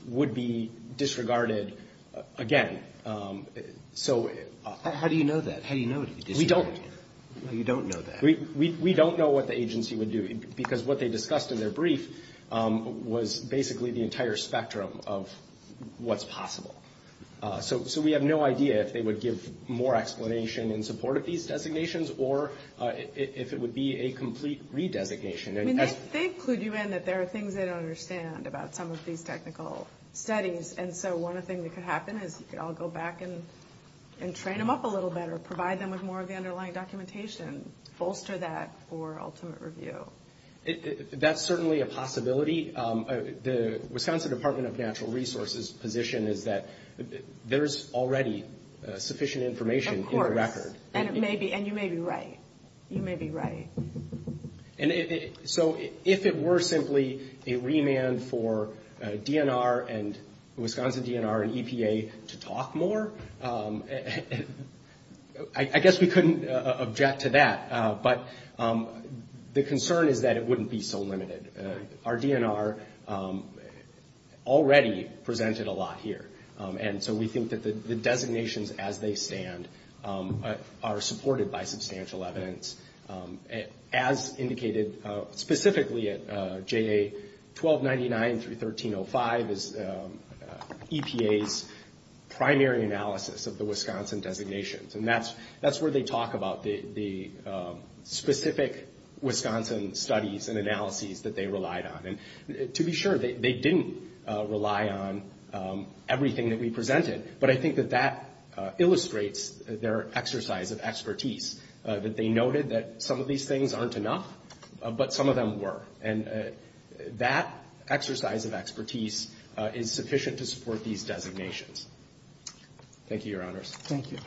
would be disregarded again. How do you know that? How do you know it would be disregarded? We don't. You don't know that. We don't know what the agency would do because what they discussed in their brief was basically the entire spectrum of what's possible. So we have no idea if they would give more explanation in support of these designations or if it would be a complete re-designation. We may think, LuDuan, that there are things they don't understand about some of these technical studies, and so one thing that could happen is they all go back and train them up a little better, or provide them with more of the underlying documentation, bolster that for ultimate review. That's certainly a possibility. The Wisconsin Department of Natural Resources' position is that there's already sufficient information in the record. Of course. And you may be right. You may be right. So if it were simply a remand for DNR and Wisconsin DNR and EPA to talk more, I guess we couldn't object to that, but the concern is that it wouldn't be so limited. Our DNR already presented a lot here, and so we think that the designations as they stand are supported by substantial evidence. As indicated specifically at JA 1299-1305 is EPA's primary analysis of the Wisconsin designations, and that's where they talk about the specific Wisconsin studies and analyses that they relied on. To be sure, they didn't rely on everything that we presented, but I think that that illustrates their exercise of expertise, that they noted that some of these things aren't enough, but some of them were, and that exercise of expertise is sufficient to support these designations. Thank you, Your Honors. Thank you.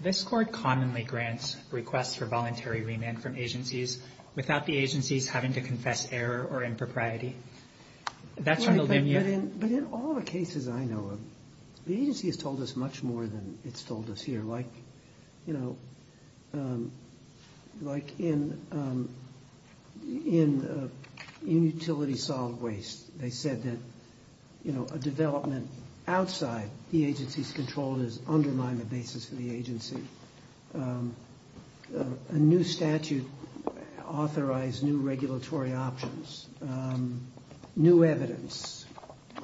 This Court commonly grants requests for voluntary remand from agencies without the agencies having to confess error or impropriety. But in all the cases I know of, the agency has told us much more than it's told us here. Like, you know, like in utility solid waste, they said that, you know, a development outside the agency's control is undermining the basis of the agency. A new statute authorized new regulatory options, new evidence.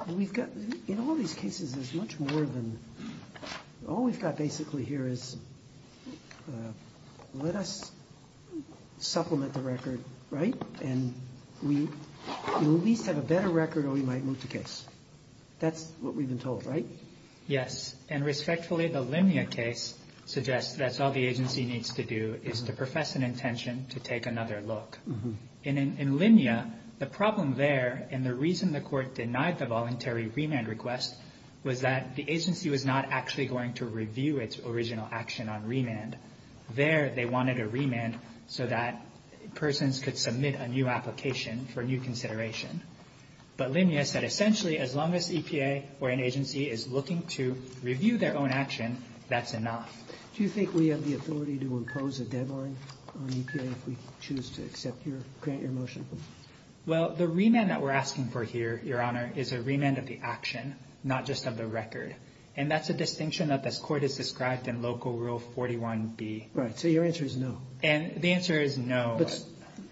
And we've got – in all these cases, there's much more than – all we've got basically here is let us supplement the record, right, and we will at least have a better record or we might lose the case. That's what we've been told, right? Yes. And respectfully, the Linnea case suggests that's all the agency needs to do is to profess an intention to take another look. And in Linnea, the problem there, and the reason the Court denied the voluntary remand request there they wanted a remand so that persons could submit a new application for new consideration. But Linnea said essentially as long as EPA or an agency is looking to review their own action, that's enough. Do you think we have the ability to impose a deadline on EPA if we choose to accept your motion? Well, the remand that we're asking for here, Your Honor, is a remand of the action, not just of the record. And that's the distinction that this Court has described in Local Rule 41B. Right. So your answer is no. And the answer is no.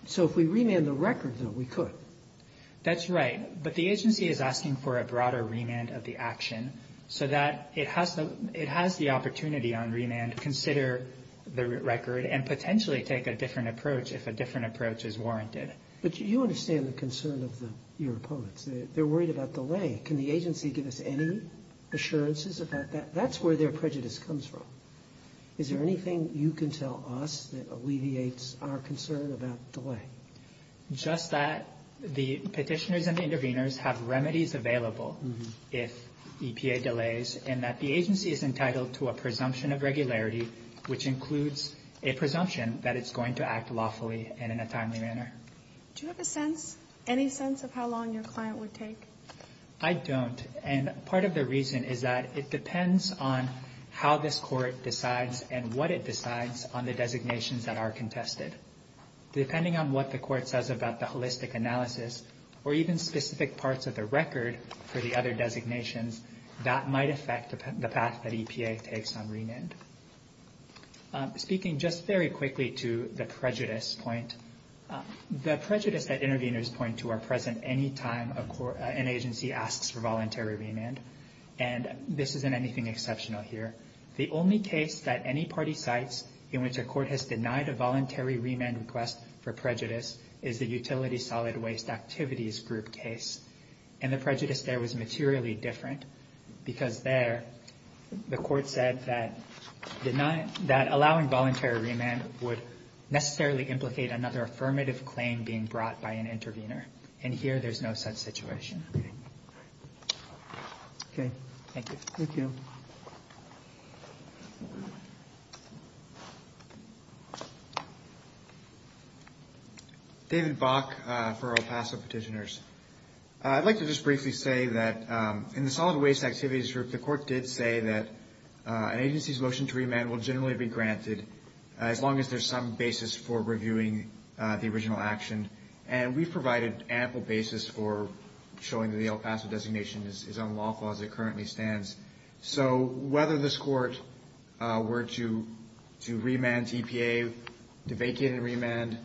So if we remand the record, then we could. That's right. But the agency is asking for a broader remand of the action so that it has the opportunity on remand to consider the record and potentially take a different approach if a different approach is warranted. But you understand the concern of your opponents. They're worried about delay. Can the agency give us any assurances of that? That's where their prejudice comes from. Is there anything you can tell us that alleviates our concern about delay? Just that the petitioners and the interveners have remedies available if EPA delays and that the agency is entitled to a presumption of regularity, which includes a presumption that it's going to act lawfully and in a timely manner. Do you have a sense, any sense of how long your client would take? I don't. And part of the reason is that it depends on how this Court decides and what it decides on the designations that are contested. Depending on what the Court says about the holistic analysis or even specific parts of the record for the other designations, that might affect the path that EPA takes on remand. Speaking just very quickly to the prejudice point, the prejudice that interveners point to are present any time an agency asks for voluntary remand. And this isn't anything exceptional here. The only case that any party cites in which a court has denied a voluntary remand request for prejudice is the Utility Solid Waste Activities Group case. And the prejudice there was materially different because there, the Court said that allowing voluntary remand would necessarily implicate another affirmative claim being brought by an intervener. And here, there's no such situation. Okay. Thank you. Thank you. David Bock for El Paso Petitioners. I'd like to just briefly say that in the Solid Waste Activities Group, the Court did say that an agency's motion to remand will generally be granted as long as there's some basis for reviewing the original action. And we provided ample basis for showing that the El Paso designation is on the law as it currently stands. So whether this Court were to remand EPA, to vacate and remand,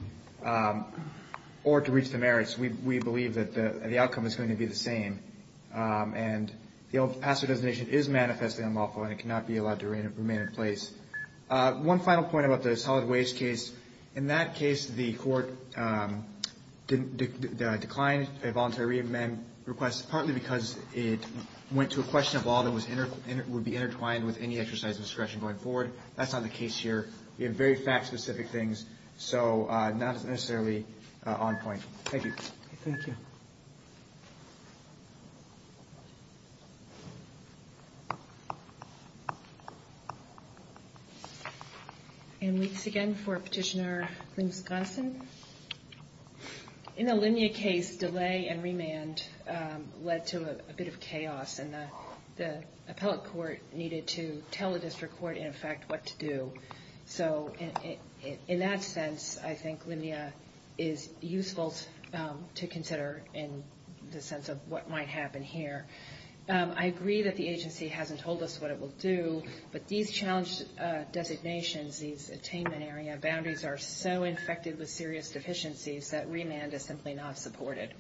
or to reach the merits, we believe that the outcome is going to be the same. And the El Paso designation is manifestly unlawful, and it cannot be allowed to remain in place. One final point about the Solid Waste case. In that case, the Court declined the voluntary remand request, partly because it went to a question of law that would be intertwined with any exercise of discretion going forward. That's not the case here. Thank you. Thank you. And once again for Petitioner Lynn Johnson. In the Linnea case, delay and remand led to a bit of chaos, and the appellate court needed to tell the district court, in effect, what to do. So in that sense, I think Linnea is useful to consider in the sense of what might happen here. I agree that the agency hasn't told us what it will do, but these challenge designations, these attainment area boundaries are so infected with serious deficiencies that remand is simply not supported.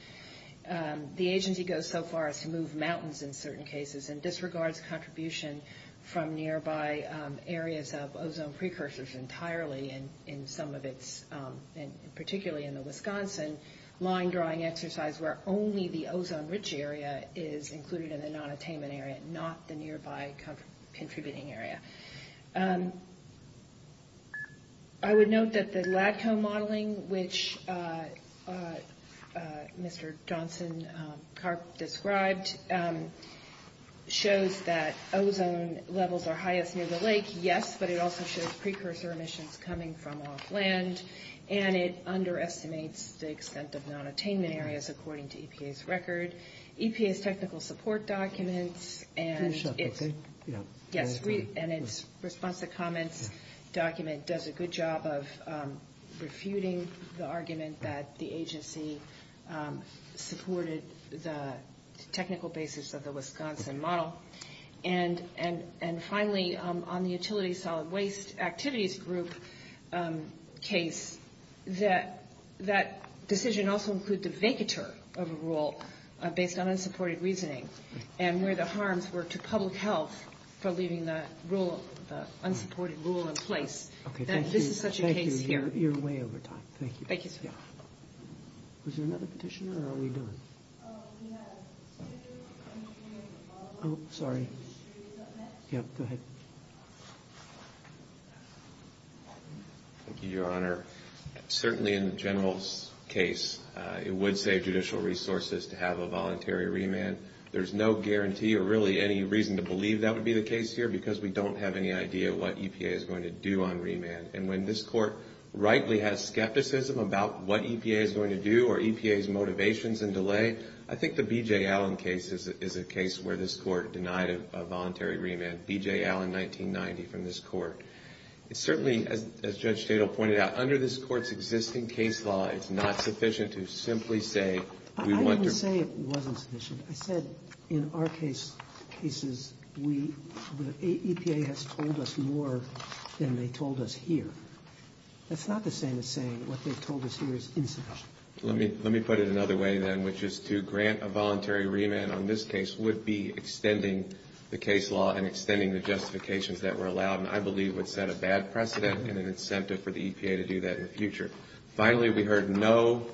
The agency goes so far as to move mountains in certain cases and disregards contribution from nearby areas of ozone precursors entirely in some of its, particularly in the Wisconsin line drawing exercise where only the ozone-rich area is included in the non-attainment area, not the nearby contributing area. I would note that the lab hill modeling, which Mr. Johnson described, shows that ozone levels are highest near the lake, yes, but it also shows precursor emissions coming from off land, and it underestimates the extent of non-attainment areas, according to EPA's record. EPA's technical support documents and – response to comments document does a good job of refuting the argument that the agency supported the technical basis of the Wisconsin model. And finally, on the utility solid waste activities group case, that decision also includes a vacatur of a rule based on unsupported reasoning and where the harms were to public health for leaving that unsupported rule in place. And this is such a case here. Thank you. You're way over time. Thank you. Thank you, sir. Was there another petitioner or are we good? Oh, sorry. Yeah, go ahead. Thank you, Your Honor. Certainly in the general case, it would save judicial resources to have a voluntary remand. There's no guarantee or really any reason to believe that would be the case here because we don't have any idea what EPA is going to do on remand. And when this court rightly has skepticism about what EPA is going to do or EPA's motivations and delay, I think the B.J. Allen case is a case where this court denied a voluntary remand, B.J. Allen, 1990, from this court. Certainly, as Judge Shadle pointed out, under this court's existing case law, it's not sufficient to simply say we want to – that in our cases, EPA has told us more than they told us here. It's not the same as saying what they told us here is insufficient. Let me put it another way then, which is to grant a voluntary remand on this case would be extending the case law and extending the justifications that were allowed, and I believe would set a bad precedent and an incentive for the EPA to do that in the future. Finally, we heard no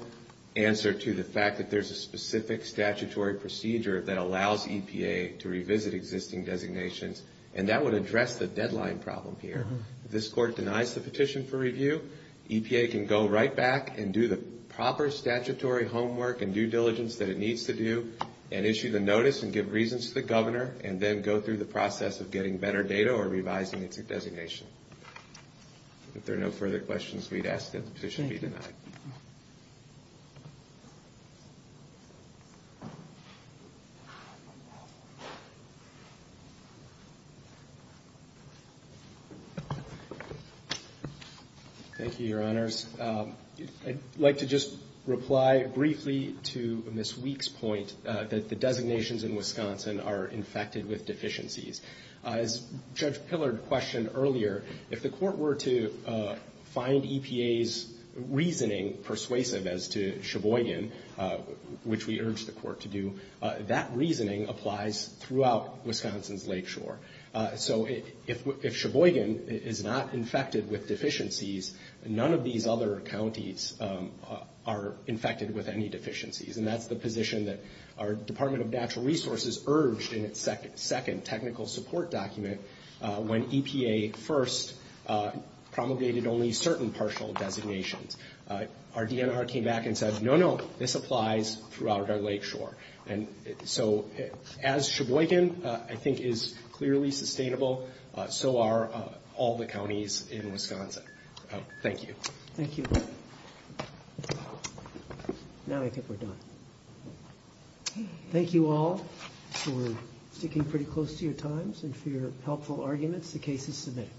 answer to the fact that there's a specific statutory procedure that allows EPA to revisit existing designations, and that would address the deadline problem here. If this court denies the petition for review, EPA can go right back and do the proper statutory homework and due diligence that it needs to do and issue the notice and give reasons to the governor and then go through the process of getting better data or revising its designation. If there are no further questions, we'd ask that the petition be denied. Thank you, Your Honors. I'd like to just reply briefly to Ms. Weeks' point that the designations in Wisconsin are infected with deficiencies. As Judge Hillard questioned earlier, if the court were to find EPA's reasoning persuasive as to Sheboygan, which we urge the court to do, that reasoning applies throughout Wisconsin's lakeshore. So if Sheboygan is not infected with deficiencies, none of these other counties are infected with any deficiencies, and that's the position that our Department of Natural Resources urged in its second technical support document when EPA first promulgated only certain partial designations. Our DNR came back and said, no, no, this applies throughout our lakeshore. And so as Sheboygan, I think, is clearly sustainable, so are all the counties in Wisconsin. Thank you. Thank you. Now I think we're done. Thank you all for sticking pretty close to your times and for your helpful arguments. The case is submitted.